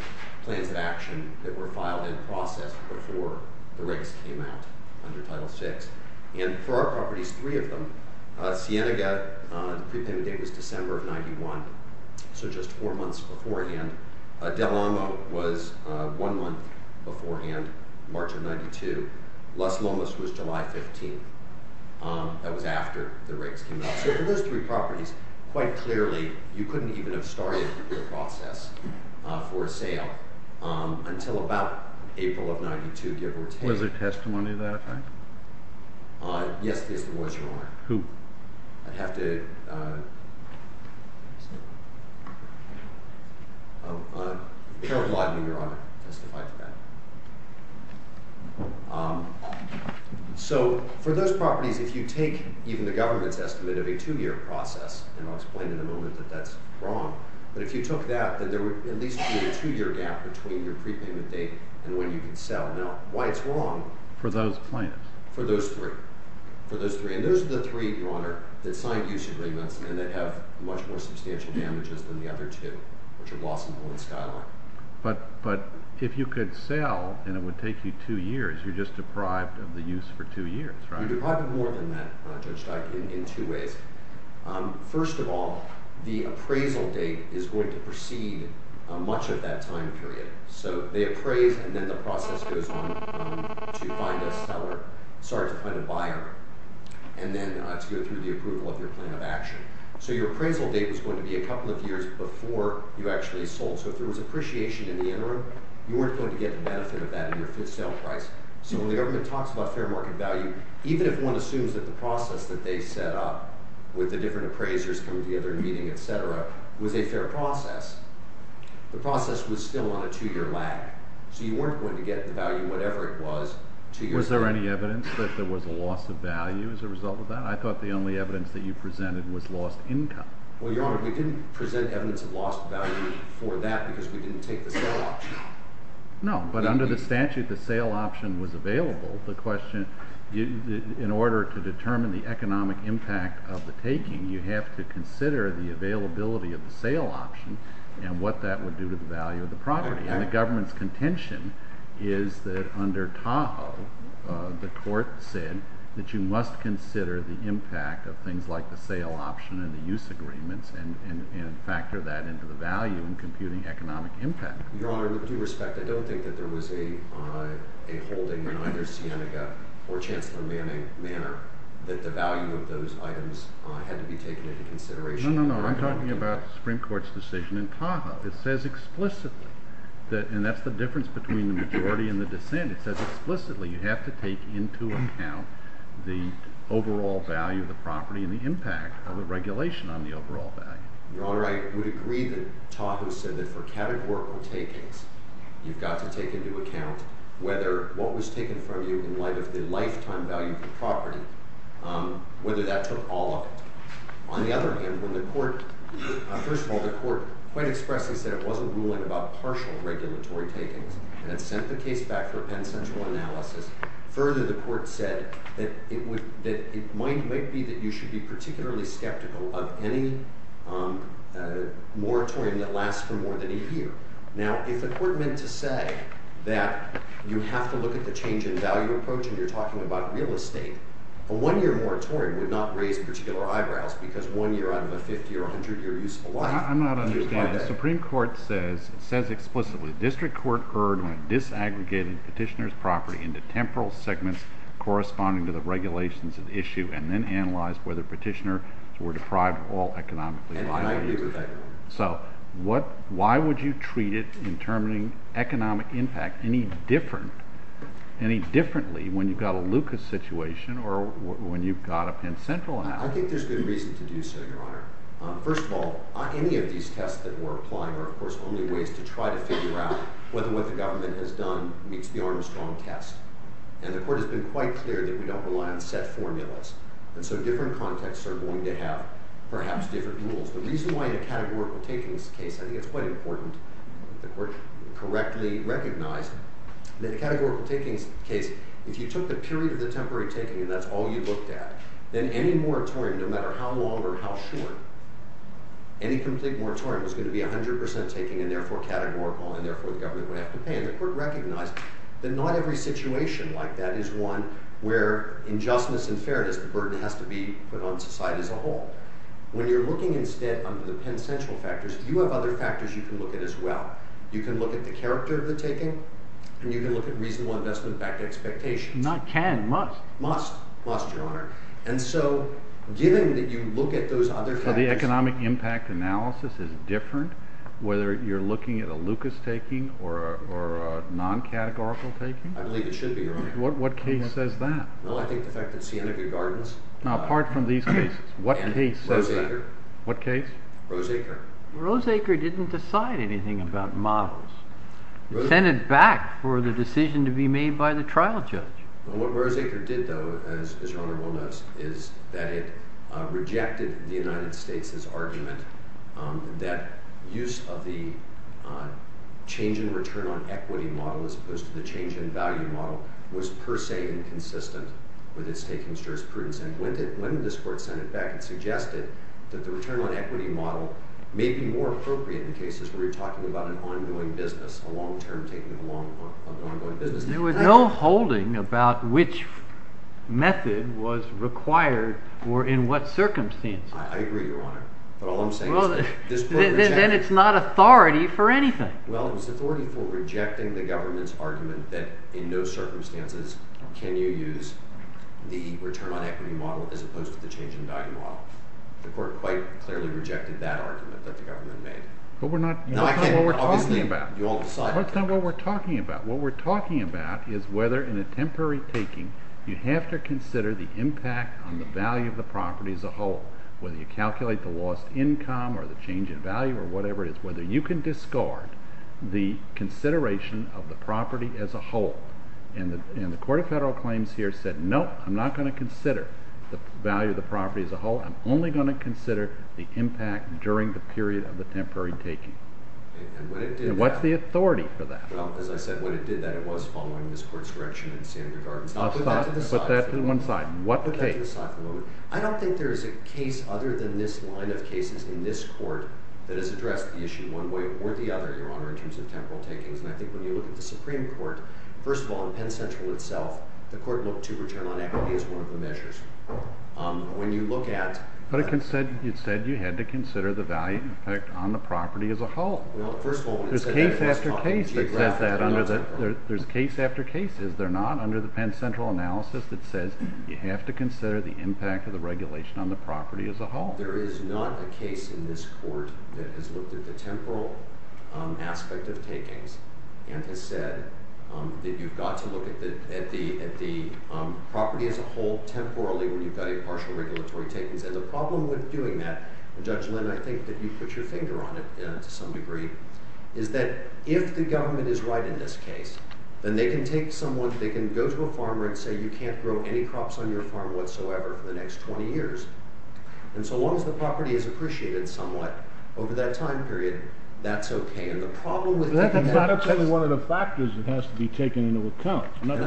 plans of action that were filed in process before the rates came out under Title VI. And for our properties, three of them, Cienega, the date was December of 1991, so just four months before again. Del Amo was one month beforehand, March of 1992. Los Lomas was July 15. That was after the rates came out. So for those three properties, quite clearly, you couldn't even have started the process for a sale until about April of 1992. Was there testimony of that? Yes, there was, Your Honor. Who? I'd have to... I'm paraphrasing, Your Honor. So for those properties, if you take even the government's estimate of a two-year process, and I'll explain in a moment that that's wrong, but if you took that, then there would at least be a two-year gap between your prepayment date and when you can sell. Now, why it's wrong... For those plans. For those three. For those three. And those are the three, Your Honor, that science uses very much, and they have much more substantial damages than the other two, which are lost employment style. But if you could sell, and it would take you two years, you're just deprived of the use for two years, right? You're deprived of more than that, Judge Steinberg, in two ways. First of all, the appraisal date is going to precede much of that time period. So they appraise, to find a seller, sorry, to find a buyer, and then it has to go through the approval of your plan of action. So your appraisal date is going to be a couple of years before you actually sold. So if there was depreciation in the interim, you weren't going to get the benefit of that in your fifth sale price. So when the argument talks about fair market value, even if one assumes that the process that they set up with the different appraisers from the other meeting, et cetera, was a fair process, the process was still on a two-year lag. So you weren't going to get the value, whatever it was, two years later. Was there any evidence that there was a loss of value as a result of that? I thought the only evidence that you presented was lost income. Well, Your Honor, we didn't present evidence of lost value for that because we didn't take the sale option. No, but under the statute, the sale option was available. The question, in order to determine the economic impact of the taking, you have to consider the availability of the sale option and what that would do to the value of the property. And the government's contention is that under Tahoe, the court said that you must consider the impact of things like the sale option and the use agreement and factor that into the value in computing economic impact. Your Honor, with due respect, I don't think that there was a holding, an understanding, a fortune-telling manner that the value of those items had to be taken into consideration. No, no, no. I'm talking about the Supreme Court's decision in Tahoe. It says explicitly, and that's the difference between the majority and the defendant, it says explicitly you have to take into account the overall value of the property and the impact of the regulation on the overall value. Your Honor, I would agree that Tahoe said that for categorical takings, you've got to take into account whether what was taken from you in light of the lifetime value of the property, whether that took all of it. On the other hand, when the court, first of all, the court quite expressly said it wasn't ruling about partial regulatory takings and it sent the case back for penitential analysis. Further, the court said that it might be that you should be particularly skeptical of any moratorium that lasts for more than a year. Now, if the court meant to say that you have to look at the change in value approach when you're talking about real estate, a one-year moratorium would not raise particular eyebrows because one year out of a 50- or 100-year useful life... I'm not understanding. The Supreme Court says it says explicitly, District Court heard when disaggregated petitioner's property into temporal segments corresponding to the regulations of the issue and then analyzed whether petitioner were deprived of all economic value. So why would you treat it in terming economic impact any different, any differently when you've got a Lucas situation or when you've got a Penn Central now? I think there's good reasons to do so, Your Honor. First of all, any of these tests that we're applying are, of course, only ways to try to figure out whether what the government has done meets the Armstrong test. And the court has been quite clear that we don't rely on set formulas. And so different contexts are going to have perhaps different rules. The reason why the categorical taking is the case, I think it's quite important that the court correctly recognized that the categorical taking is the case if you took the period of the temporary taking and that's all you looked at, then any moratorium, no matter how long or how short, any complete moratorium is going to be 100% taking and therefore categorical and therefore the government would have to pay. And the court recognized that not every situation like that is one where injustice and fairness is a burden that has to be put on society as a whole. When you're looking instead under the quintessential factors, do you have other factors you can look at as well? You can look at the character of the taking and you can look at reasonable investment back to expectation. You know, can, must. Must. Must, Your Honor. And so given that you look at those other factors... So the economic impact analysis is different whether you're looking at a Lucas taking or a non-categorical taking? I believe it should be, Your Honor. What case says that? Well, I think the fact that Sanity Gardens... Now, apart from these things, what case says that? Rose-Acre. What case? Rose-Acre. Rose-Acre didn't decide anything about models. It sent it back for the decision to be made by the trial judge. What Rose-Acre did, though, as Your Honor well knows, is that it rejected the United States' argument that use of the change in return on equity model as opposed to the change in value model was per se inconsistent with its taken jurisprudence. And when this court sent it back, it suggested that the return on equity model may be more appropriate in cases where you're talking about an ongoing business, a long-term taking of a long-term business. There was no holding about which method was required or in what circumstances. I agree, Your Honor. But all I'm saying is that this court... Then it's not authority for anything. Well, it's authority for rejecting the government's argument that in those circumstances can you use the return on equity model as opposed to the change in value model. The court quite clearly rejected that argument that the government made. But we're not... You don't know what we're talking about. You won't decide. You don't know what we're talking about. What we're talking about is whether in a temporary taking you have to consider the impact on the value of the property as a whole, whether you calculate the lost income or the change in value or whatever it is, whether you can discard the consideration of the property as a whole. And the court of federal claims here said, no, I'm not going to consider the value of the property as a whole. I'm only going to consider the impact during the period of the temporary taking. And what's the authority for that? Well, as I said, when it did that, it was following this court's direction in Sanford Gardens. But that's on one side. What's the case? I don't think there's a case other than this line of cases in this court that has addressed the issue one way or the other in terms of temporal taking. And I think when you look at the Supreme Court, first of all, the Penn Central itself, the court looked to return on equity as one of the measures. When you look at... But it said you had to consider the value on the property as a whole. Well, first of all... There's case after case that says that. There's case after case. Is there not? Under the Penn Central analysis it says you have to consider the impact of the regulation on the property as a whole. There is not a case in this court that has looked at the temporal aspect of takings and has said that you've got to look at the property as a whole temporally when you've got a partial regulatory takings. And the problem with doing that, Judge Linn, I think that you put your finger on it to some degree, is that if the government is right in this case, then they can take someone, they can go to a farmer and say you can't grow any crops on your farm whatsoever for the next 20 years. And so long as the property is appreciated somewhat over that time period, that's okay. And the problem with that... That's exactly one of the factors that has to be taken into account. Not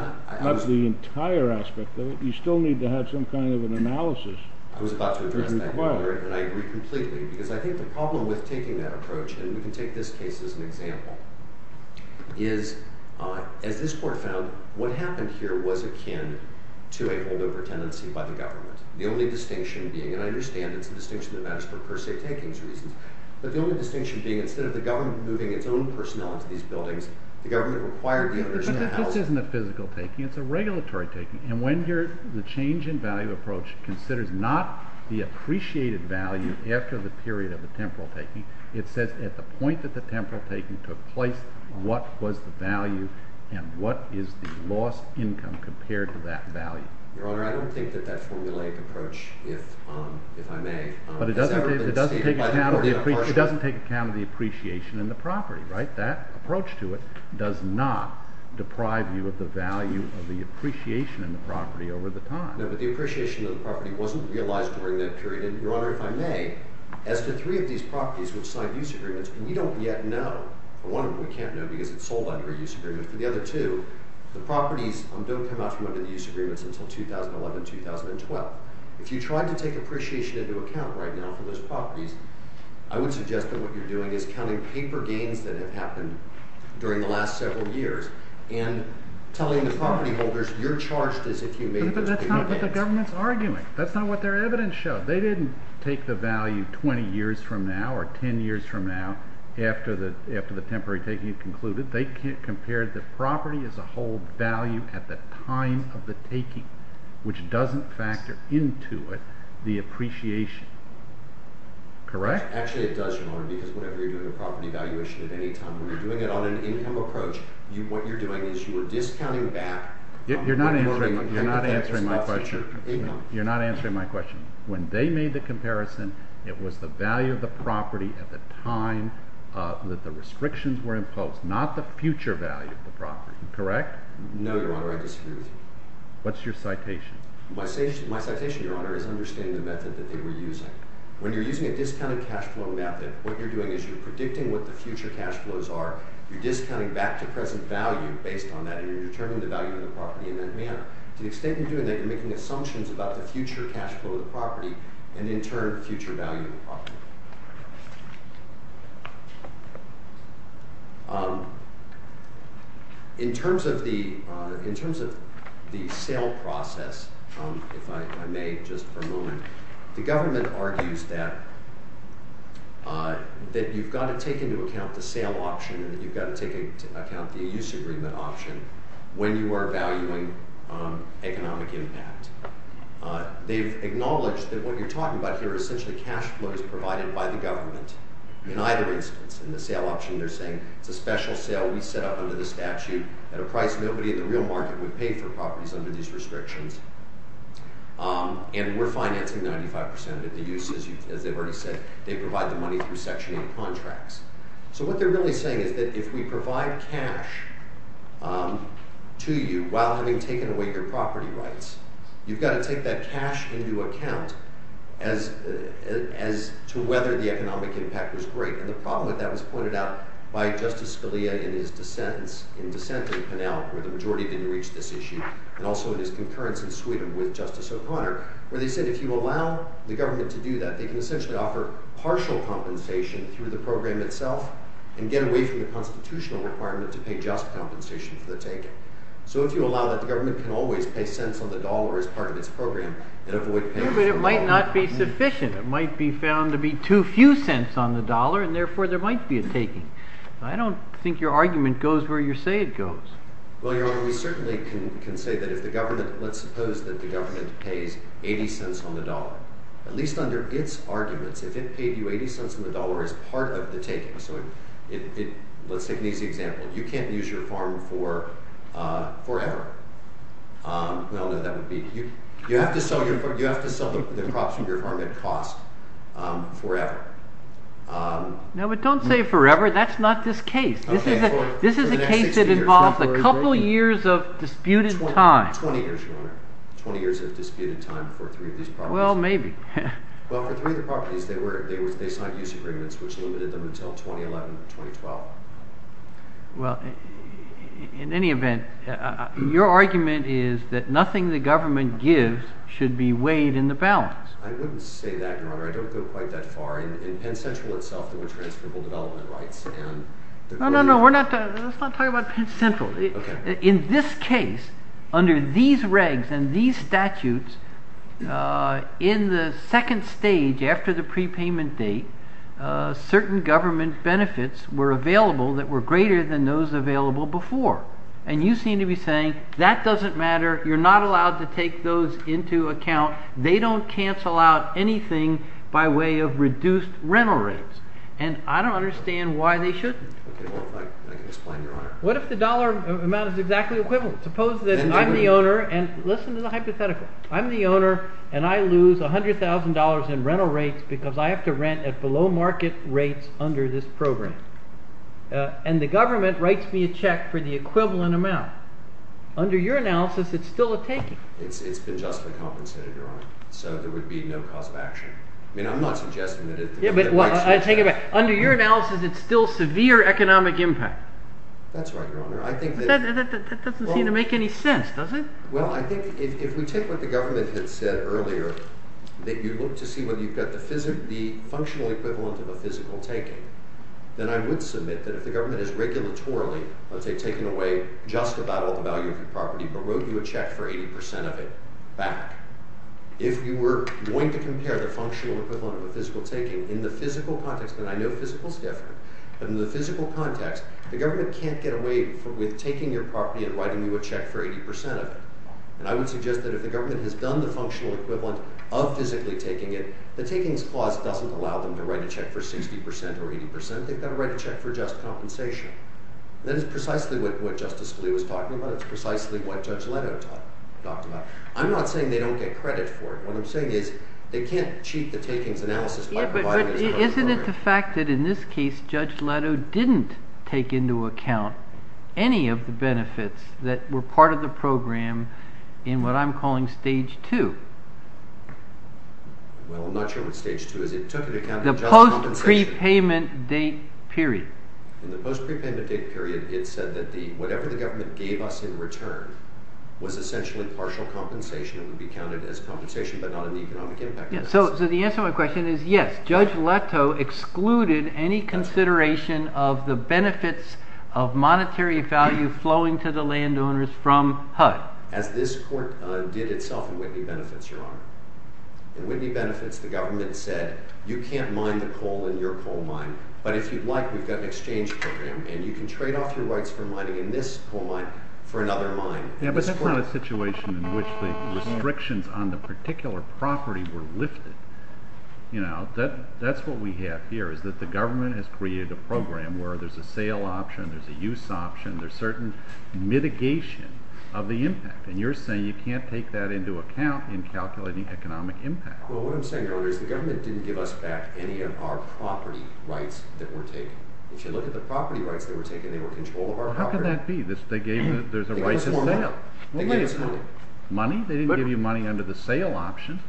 the entire aspect, though. You still need to have some kind of analysis. I was about to present that earlier and I agree completely because I think the problem with taking that approach, and you can take this case as an example, is, as this court found, what happened here was akin to a holdover tendency by the government. The only distinction being, and I understand it's the distinction that matters for a per se taking reason, but the only distinction being instead of the government moving its own personnel into these buildings, the government required... But this isn't a physical taking, it's a regulatory taking, and when the change in value approach is considered not the appreciated value after the period of the temporal taking, it's at the point that the temporal taking took place, what was the value and what is the lost income compared to that value. Your Honor, I don't think that that formulaic approach, if I may... But it doesn't take account of the appreciation in the property, right? That approach to it does not deprive you of the value of the appreciation in the property over the time. No, but the appreciation in the property wasn't realized during that period, and Your Honor, if I may, as the three of these properties which signed these agreements, we don't yet know, one of them we can't know because it's sold out for these agreements, and the other two, the properties don't come out from those agreements until 2011, 2012. If you try to take appreciation into account right now for those properties, I would suggest that what you're doing is telling paper games that have happened during the last several years, and telling the property holders you're charged as a accumator... But that's not what the government's arguing. That's not what their evidence shows. They didn't take the value 20 years from now or 10 years from now after the temporary agreement was concluded. They compared the property as a whole value at the time of the taking, which doesn't factor into it the appreciation. Correct? Actually, it does, because whenever you're doing a property valuation at any time, you're doing it on an income approach. What you're doing is you're discounting back... You're not answering my question. When they made the comparison, it was the value of the property at the time that the restrictions were imposed, not the future value of the property. Correct? No, Your Honor. I disagree. What's your citation? My citation, Your Honor, is understanding the method that they were using. When you're using a discounted cash flow method, what you're doing is you're predicting what the future cash flows are. You're predicting what the future cash flows are. In terms of the sale process, if I may, just for a moment, the government argues that you've got to take into account the sale option and that you've got to take into account the use agreement option when you are valuing economic impact. They've acknowledged that what you're talking about here is the use agreement and the sale option. The special sale we set up under the statute at a price nobody in the real market would pay for properties under these restrictions. And we're financing 95 percent of the use as they were to say. They provide the money for the options, which are the contracts. So what they're really saying is that if we provide cash to you while having taken away your property rights, you've got to take that cash into account as to whether the economic impact was great. And the problem with that was pointed out by the they're saying that the government has to pay just compensation through the program itself. So if you allow that, the government can always pay cents on the dollar as part of the program. But it might not be sufficient. It might be found to be too few cents on the dollar and therefore there might be a taking. I don't think your argument goes where you say it goes. Well, Your Honor, we certainly can say that if the government, let's suppose that the government pays 80 cents on the dollar, they're taking. Let's take an easy example. You can't use your farm for forever. You have to sell the crops of your farm at cost forever. But don't say forever. That's not this case. This is a case that involves a couple of years of disputed time. 20 years of disputed time. Well, maybe. Well, in any event, your argument is that nothing the government gives should be weighed in the balance. I wouldn't say that, Your Honor. I don't go quite that far. No, no, we're not talking about Penn Central. In this case, under these regs and these statutes, in the second stage after the prepayment date, certain government benefits were available that were greater than those available before. And you seem to be saying, that doesn't matter. You're not allowed to take those into account. They don't cancel out anything by way of reduced rental rates. And I don't understand why they shouldn't. What if the dollar amount is exactly the equivalent? Suppose that I'm the owner, and listen to the hypothetical. I'm the owner, and I lose $100,000 in rental rates because I have to rent at below market rates under this program. And the government writes me a check for the equivalent amount. Under your analysis, it's still severe economic impact. That's right, Your Honor. That doesn't seem to make any sense, does it? Well, I think if we take what the government had said earlier, that you look to see whether you have the functional equivalent of a physical taking, then I would submit that if the government had done the functional equivalent of physical taking, in the physical context, and I know physical is different, but in the physical context, the government can't get away with taking your property and writing you a check for 80% of it. And I would suggest that if the government has done the functional equivalent of physically taking it, the taking's clause doesn't allow them to write a check for 60% or 80%. They've got to write a check for just compensation. That is precisely what Justice Lee was talking about. It's precisely what Judge Leto talked about. I'm not saying they don't get credit for it. What I'm saying is did not include compensation on the program in what I'm calling stage two. The post prepayment date period. So the answer to my question is yes, Judge Leto excluded any consideration of the benefits of monetary value flowing to the landowners from HUD. As this court did Whitley Benefits, Your Honor. In Whitley Benefits, the government said you can't mine the coal in your coal mine, but if you'd like, we've got an exchange program and you can trade off your rights for mining in this coal mine for another mine. But that's not a situation in which the restrictions on the particular property were lifted. You know, that's what we have here is that the government has created a program where there's a sale option, there's a use option, there's certain mitigation of the impact. And you're saying you can't take that into account in calculating economic impact. Well, what I'm saying earlier is the government didn't give us back any of our property rights that were taken. If you look at the property rights that were taken, they were in control of our property. How can that be, that they gave you the right to mine? They gave us money. Money? They didn't give you money under the circumstances.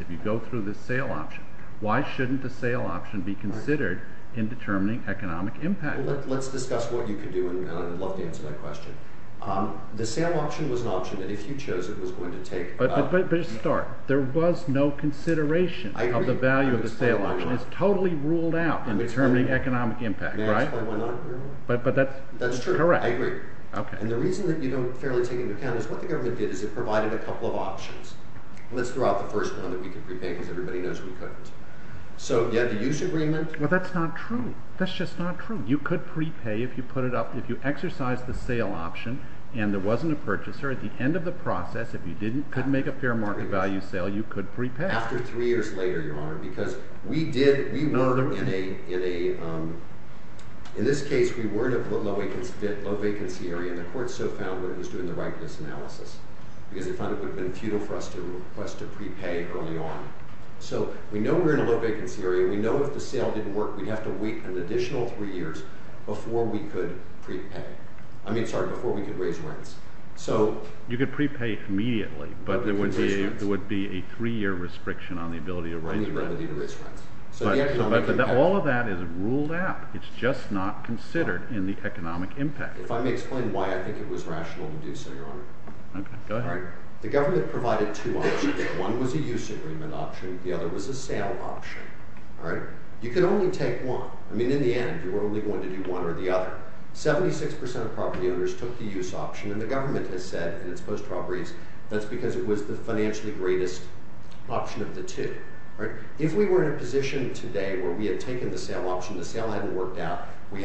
If you go through the sale option, why shouldn't the sale option be considered in determining economic impact. Let's discuss what you can do. The sale option was an option that if you chose it was going to take. There was no consideration of the value of the sale option. It was totally ruled out in determining economic impact. That's true. I agree. The reason you don't take into account is the government provided a couple of options. You have to use agreements. That's not true. You could prepay if you exercised the sale option and there wasn't a purchaser. If you couldn't make a fair value sale you could prepay. If you sale you could prepay. We learned in this case we were in a low vacancy area and the court found it was doing the right things. We know we're in a low vacancy area and we have to wait three years before we could raise money. You could prepay immediately but it would be a three year restriction on the ability to raise money. All of that is ruled out. It's just not considered in the economic impact. Let me explain why I think it was rational to do so. The government provided two options. One was a use agreement option and the other was a sale option. You could not use those properties. That's because it was the financially greatest option of the two. If we were in a position today where we had taken the sale option, the sale hadn't worked out, the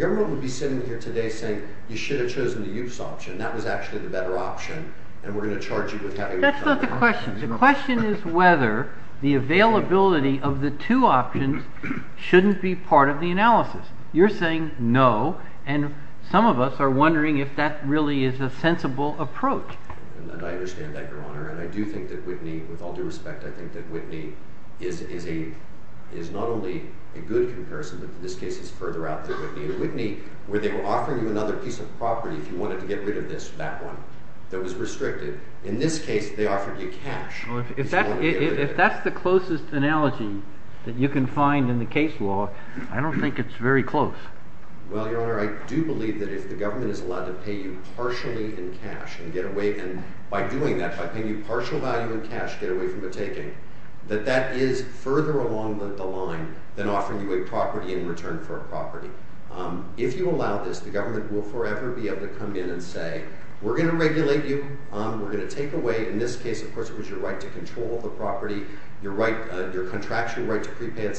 government would be sitting here today saying you should have chosen the use option. That was actually the better option. That's not the question. The question is whether the availability of the two options shouldn't be part of the analysis. You're saying no and some of us are wondering if that really is a sensible approach. I do think that Whitney is not only a good comparison but further out. In this case they offered you cash. If that's the closest analysis you can find in the case law, I don't think it's very close. I do believe that if the government is allowed to pay you partially in cash and get away from the taking, that is further along the line than if the government pay you partially in cash and get away from the taking, that is further along the line than if the government is allowed to pay you partially in cash and get away from the taking. The whole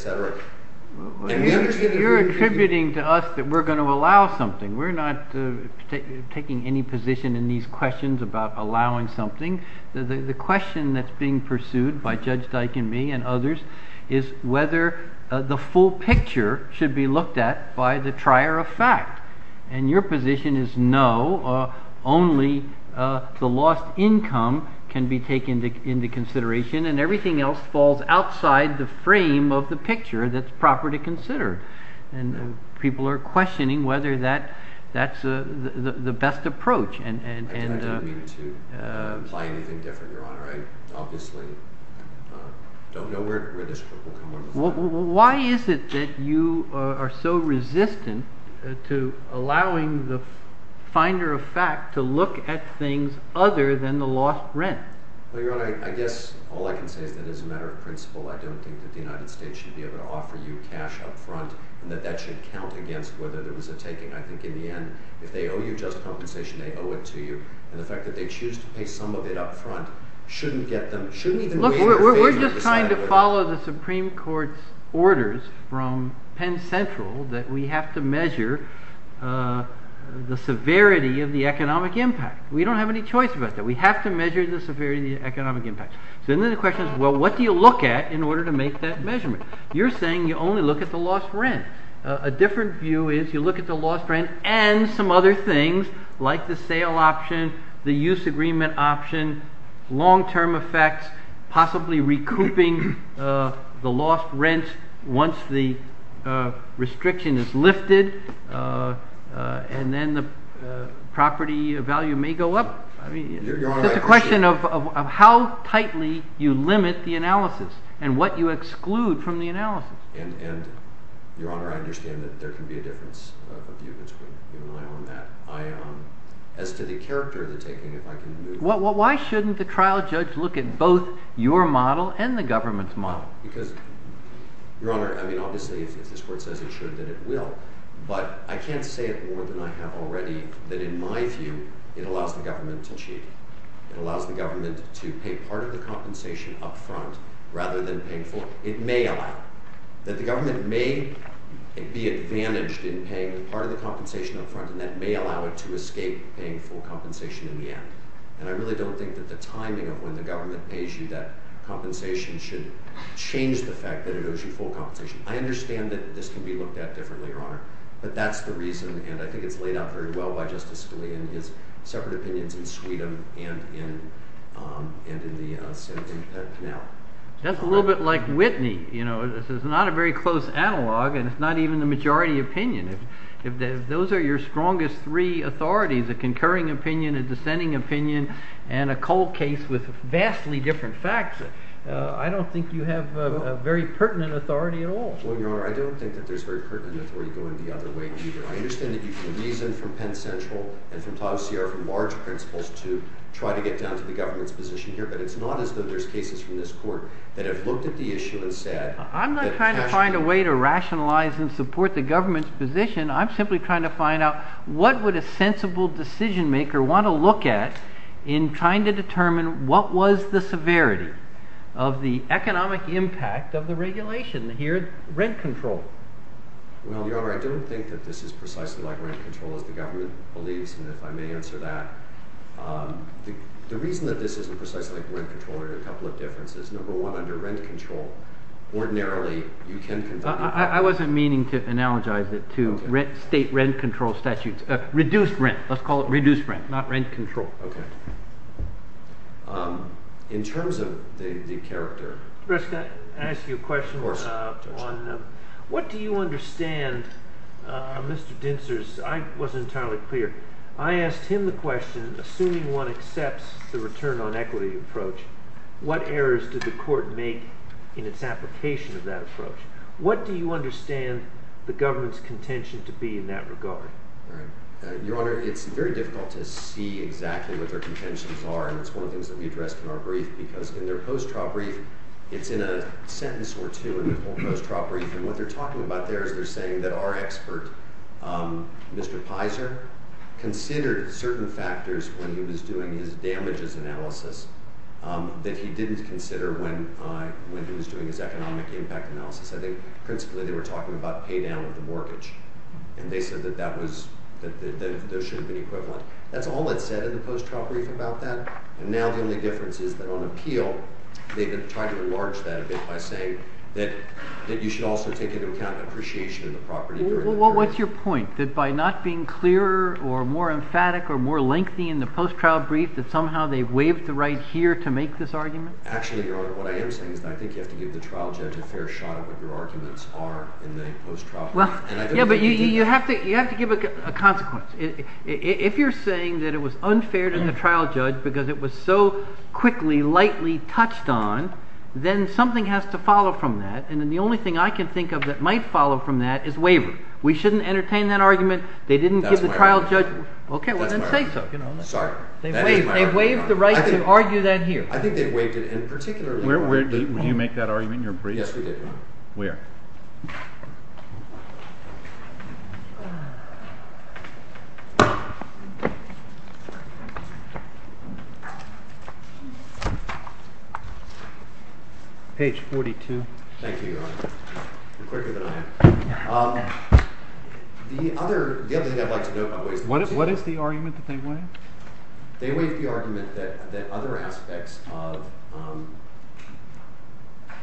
picture should be looked at by the trier of fact. And your position is no, only the lost income can be taken into consideration and everything else falls outside the frame of the picture that's proper to consider. And people are questioning whether that's the best approach. And I don't mean to find anything different, your honor. I obviously don't know where this will come up. Why is it that you are so resistant to allowing the finder of fact to look at things other than the lost rent? Well, your honor, I guess all I can say is that as a matter of principle I don't think that the United States should be able to offer you cash up front and that that should count against whether there was a taking. I think in the end if they owe you they owe it to you. And the fact that they choose to pay some of it up front shouldn't get them to look at it. We're just trying to follow the Supreme Court's orders from Penn Central that we have to measure the severity of the economic impact. We don't have any choice about that. We have to measure the severity of the economic impact. So the question is what do you look at in order to make that decision? it a long-term option, long-term effects, possibly recouping the lost rents once the restriction is lifted and then the property value may go up? It's a question of how tightly you limit the analysis and what you exclude from the analysis. Your Honor, I can't say more than I have already that in my view it allows the government to cheat. It allows the government to pay part of the compensation up front rather than pay full. It may allow it. The government may be advantaged in paying part of the compensation up front and that may allow it to escape paying full compensation in the end. And I really don't think that the timing of when the government pays you that compensation should change the fact that it goes to full compensation. I understand that this can be looked at differently, Your Honor, but that's the reason because I think it's laid out very well by Justice Scalia in his separate opinions in Court. He has three authorities, a concurring opinion, a dissenting opinion, and a cold case with vastly different factors. I don't think you have a very pertinent authority at all. Well, Your Honor, I don't think that there's very pertinent authority going the other way around. I think it's a sensible decision-maker want to look at in trying to determine what was the severity of the economic impact of the regulation here at rent control. Well, Your Honor, I don't think that this is precisely like rent control as the government believes. And if I may answer that, the reason that this isn't precisely like rent control, there are a couple of differences. Number one, under rent control, ordinarily, you can control. I wasn't meaning to analogize it to state rent control statutes, reduced rent, let's call it reduced rent, not rent control. Okay. In terms of the on equity approach, I think it's entirely clear. I asked him the question, assuming one accepts the return on equity approach, what errors did the court make in its application of that approach? What do you understand the most? think that the court considered certain factors when he was doing this analysis that he didn't consider when he was doing this economic impact analysis. They were talking about pay down with the mortgage. That's they were talking about. The only difference is that on appeal they could try to enlarge that a bit by saying that you should also take into account appreciation of the property. What's your point, that by not being clear or more lengthy in the post-trial brief that somehow they waived the right here to make this argument? You have to give a consequence. If you're saying that it was unfair to the trial judge because it was so quickly lightly touched on then something has to follow from that. The only thing I can think of that might follow from that is waiver. We shouldn't entertain that argument. They didn't give the trial judge the right to argue that here. I think they waived it in particular. Where did you make that argument in your brief? Yes, we did. Where? Page 42. Thank you. The other like to know is what is the argument that they waived? They waived the argument that other aspects of the trial judge were the process.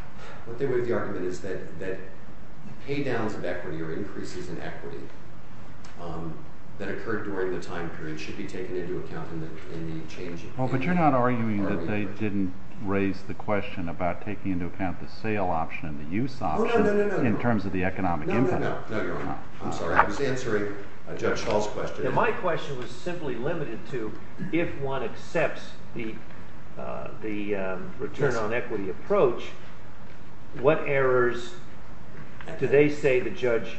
What they would have argued is that increases in equity that occurred during the time period should be taken into account. You're not arguing that they didn't raise the question about taking into account the sale option and the use option in terms of the economic return on equity approach. What errors do they say the judge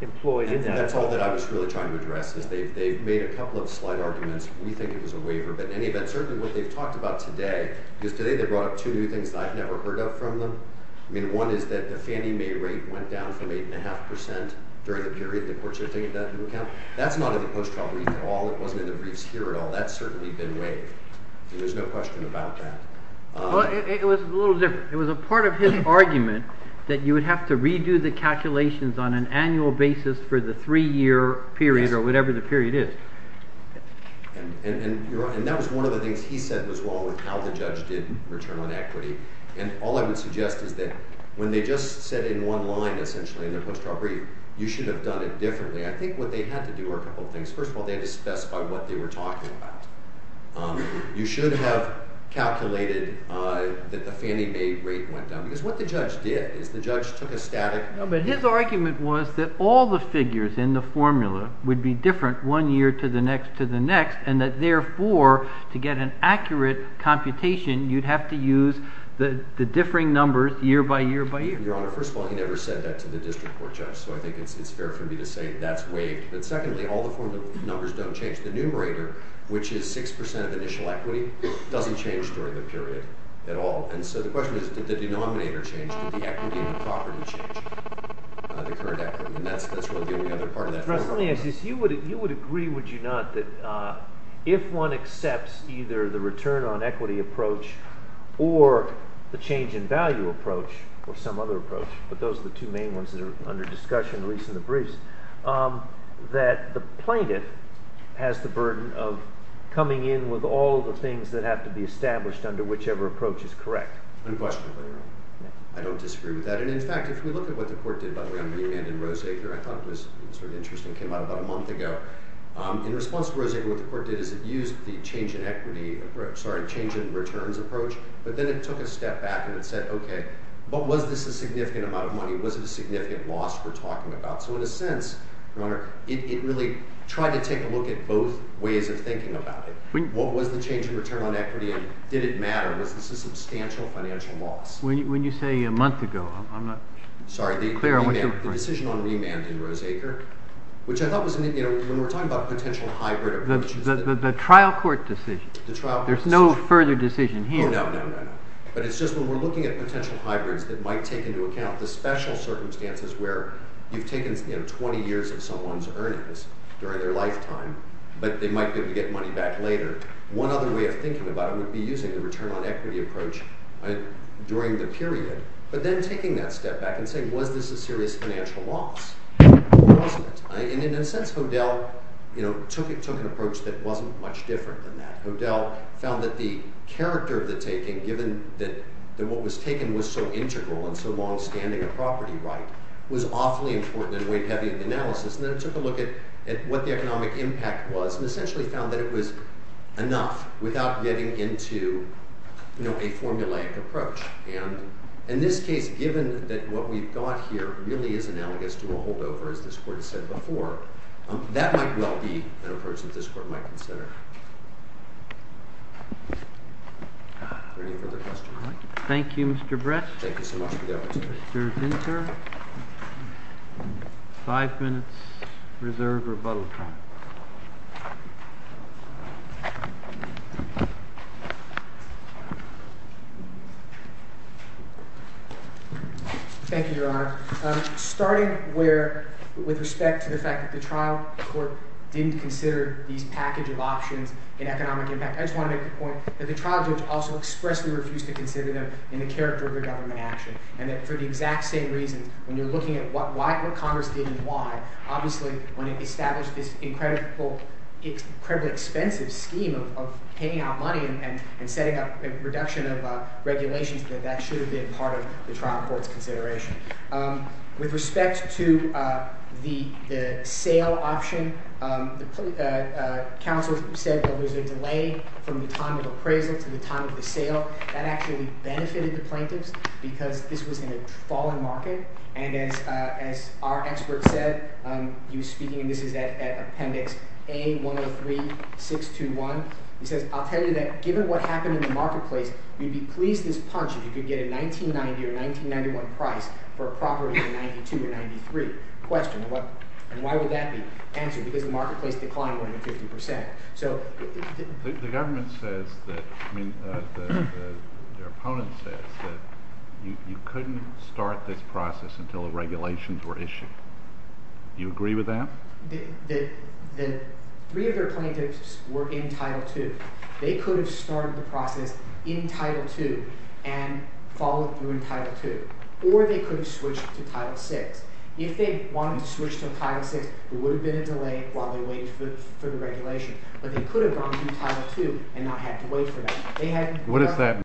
employed? That's all I was trying to address. They made a couple of slight arguments. What they talked about today is two things I never heard of. One is the Fannie Mae rate went down from 8.5 percent. That's not in the Fannie Mae rate. It was a part of his argument that you would have to redo the calculations on an annual basis for the three-year period. That was one of the things he said as well. All I would suggest is that when they just said in one line, you should have done it differently. I think what they had to do was discuss what they were talking about. You should have calculated that the Fannie Mae rate went down. His argument was that all the figures in the formula would be different one year to the next and therefore to get an accurate computation you would have to use the differing numbers year by year. Second, all the formulas don't change. The numerator which is 6% doesn't change. So the question is did the denominator change? You would agree would you not that if one of the court did was use the change in equity approach or the change in value approach or some other approach that the plaintiff has the burden of coming in with all the changes equity and the change in returns approach but then it took a step back and said okay what was this significant amount of money what was the significant loss we're talking about. So in a sense it really tried to take a look at both ways of thinking about it. What was the change in return on equity and did it matter what was the substantial financial loss. The decision on remand in Rose Acre which I thought was when we're talking about potential hybrid the trial court decision. There's no further decision here. But it's just when we're looking at potential hybrids it might take into account the special circumstances where you've taken 20 years of someone's earnings during their lifetime but they might get money back later. One other way of thinking about it is you might be using the return on equity approach during the period but then taking that step back and saying was this a serious financial loss. In a sense Hodel took an approach that wasn't much different than that. Hodel found that the character of the taking given that what was taken was so integral and so long standing was awfully important in the way of having the analysis and took a look at what the economic impact was and found it was getting into a formulaic approach. In this case given what we've got here is analogous to a holdover that might well be an approach to the impact. So Hodel found the economic impact into a formulaic approach given that what we've got here is analogous to a holdover that might well be an approach to the Hodel into a formulaic approach given that what we've got here is analogous to a holdover that might well be an approach to the what we've is to a holdover that might well be an approach to the Hodel into a formulaic approach given that what we've got here is analogous to a might well be an to the Hodel into a formulaic approach given that what we've got here is analogous to a holdover that might well be an approach to the Hodel given that is analogous to a that might well be an approach to the Hodel into a formulaic approach given that what we've got here is approach given that what we've got here is analogous to a that might well be an approach to the Hodel into a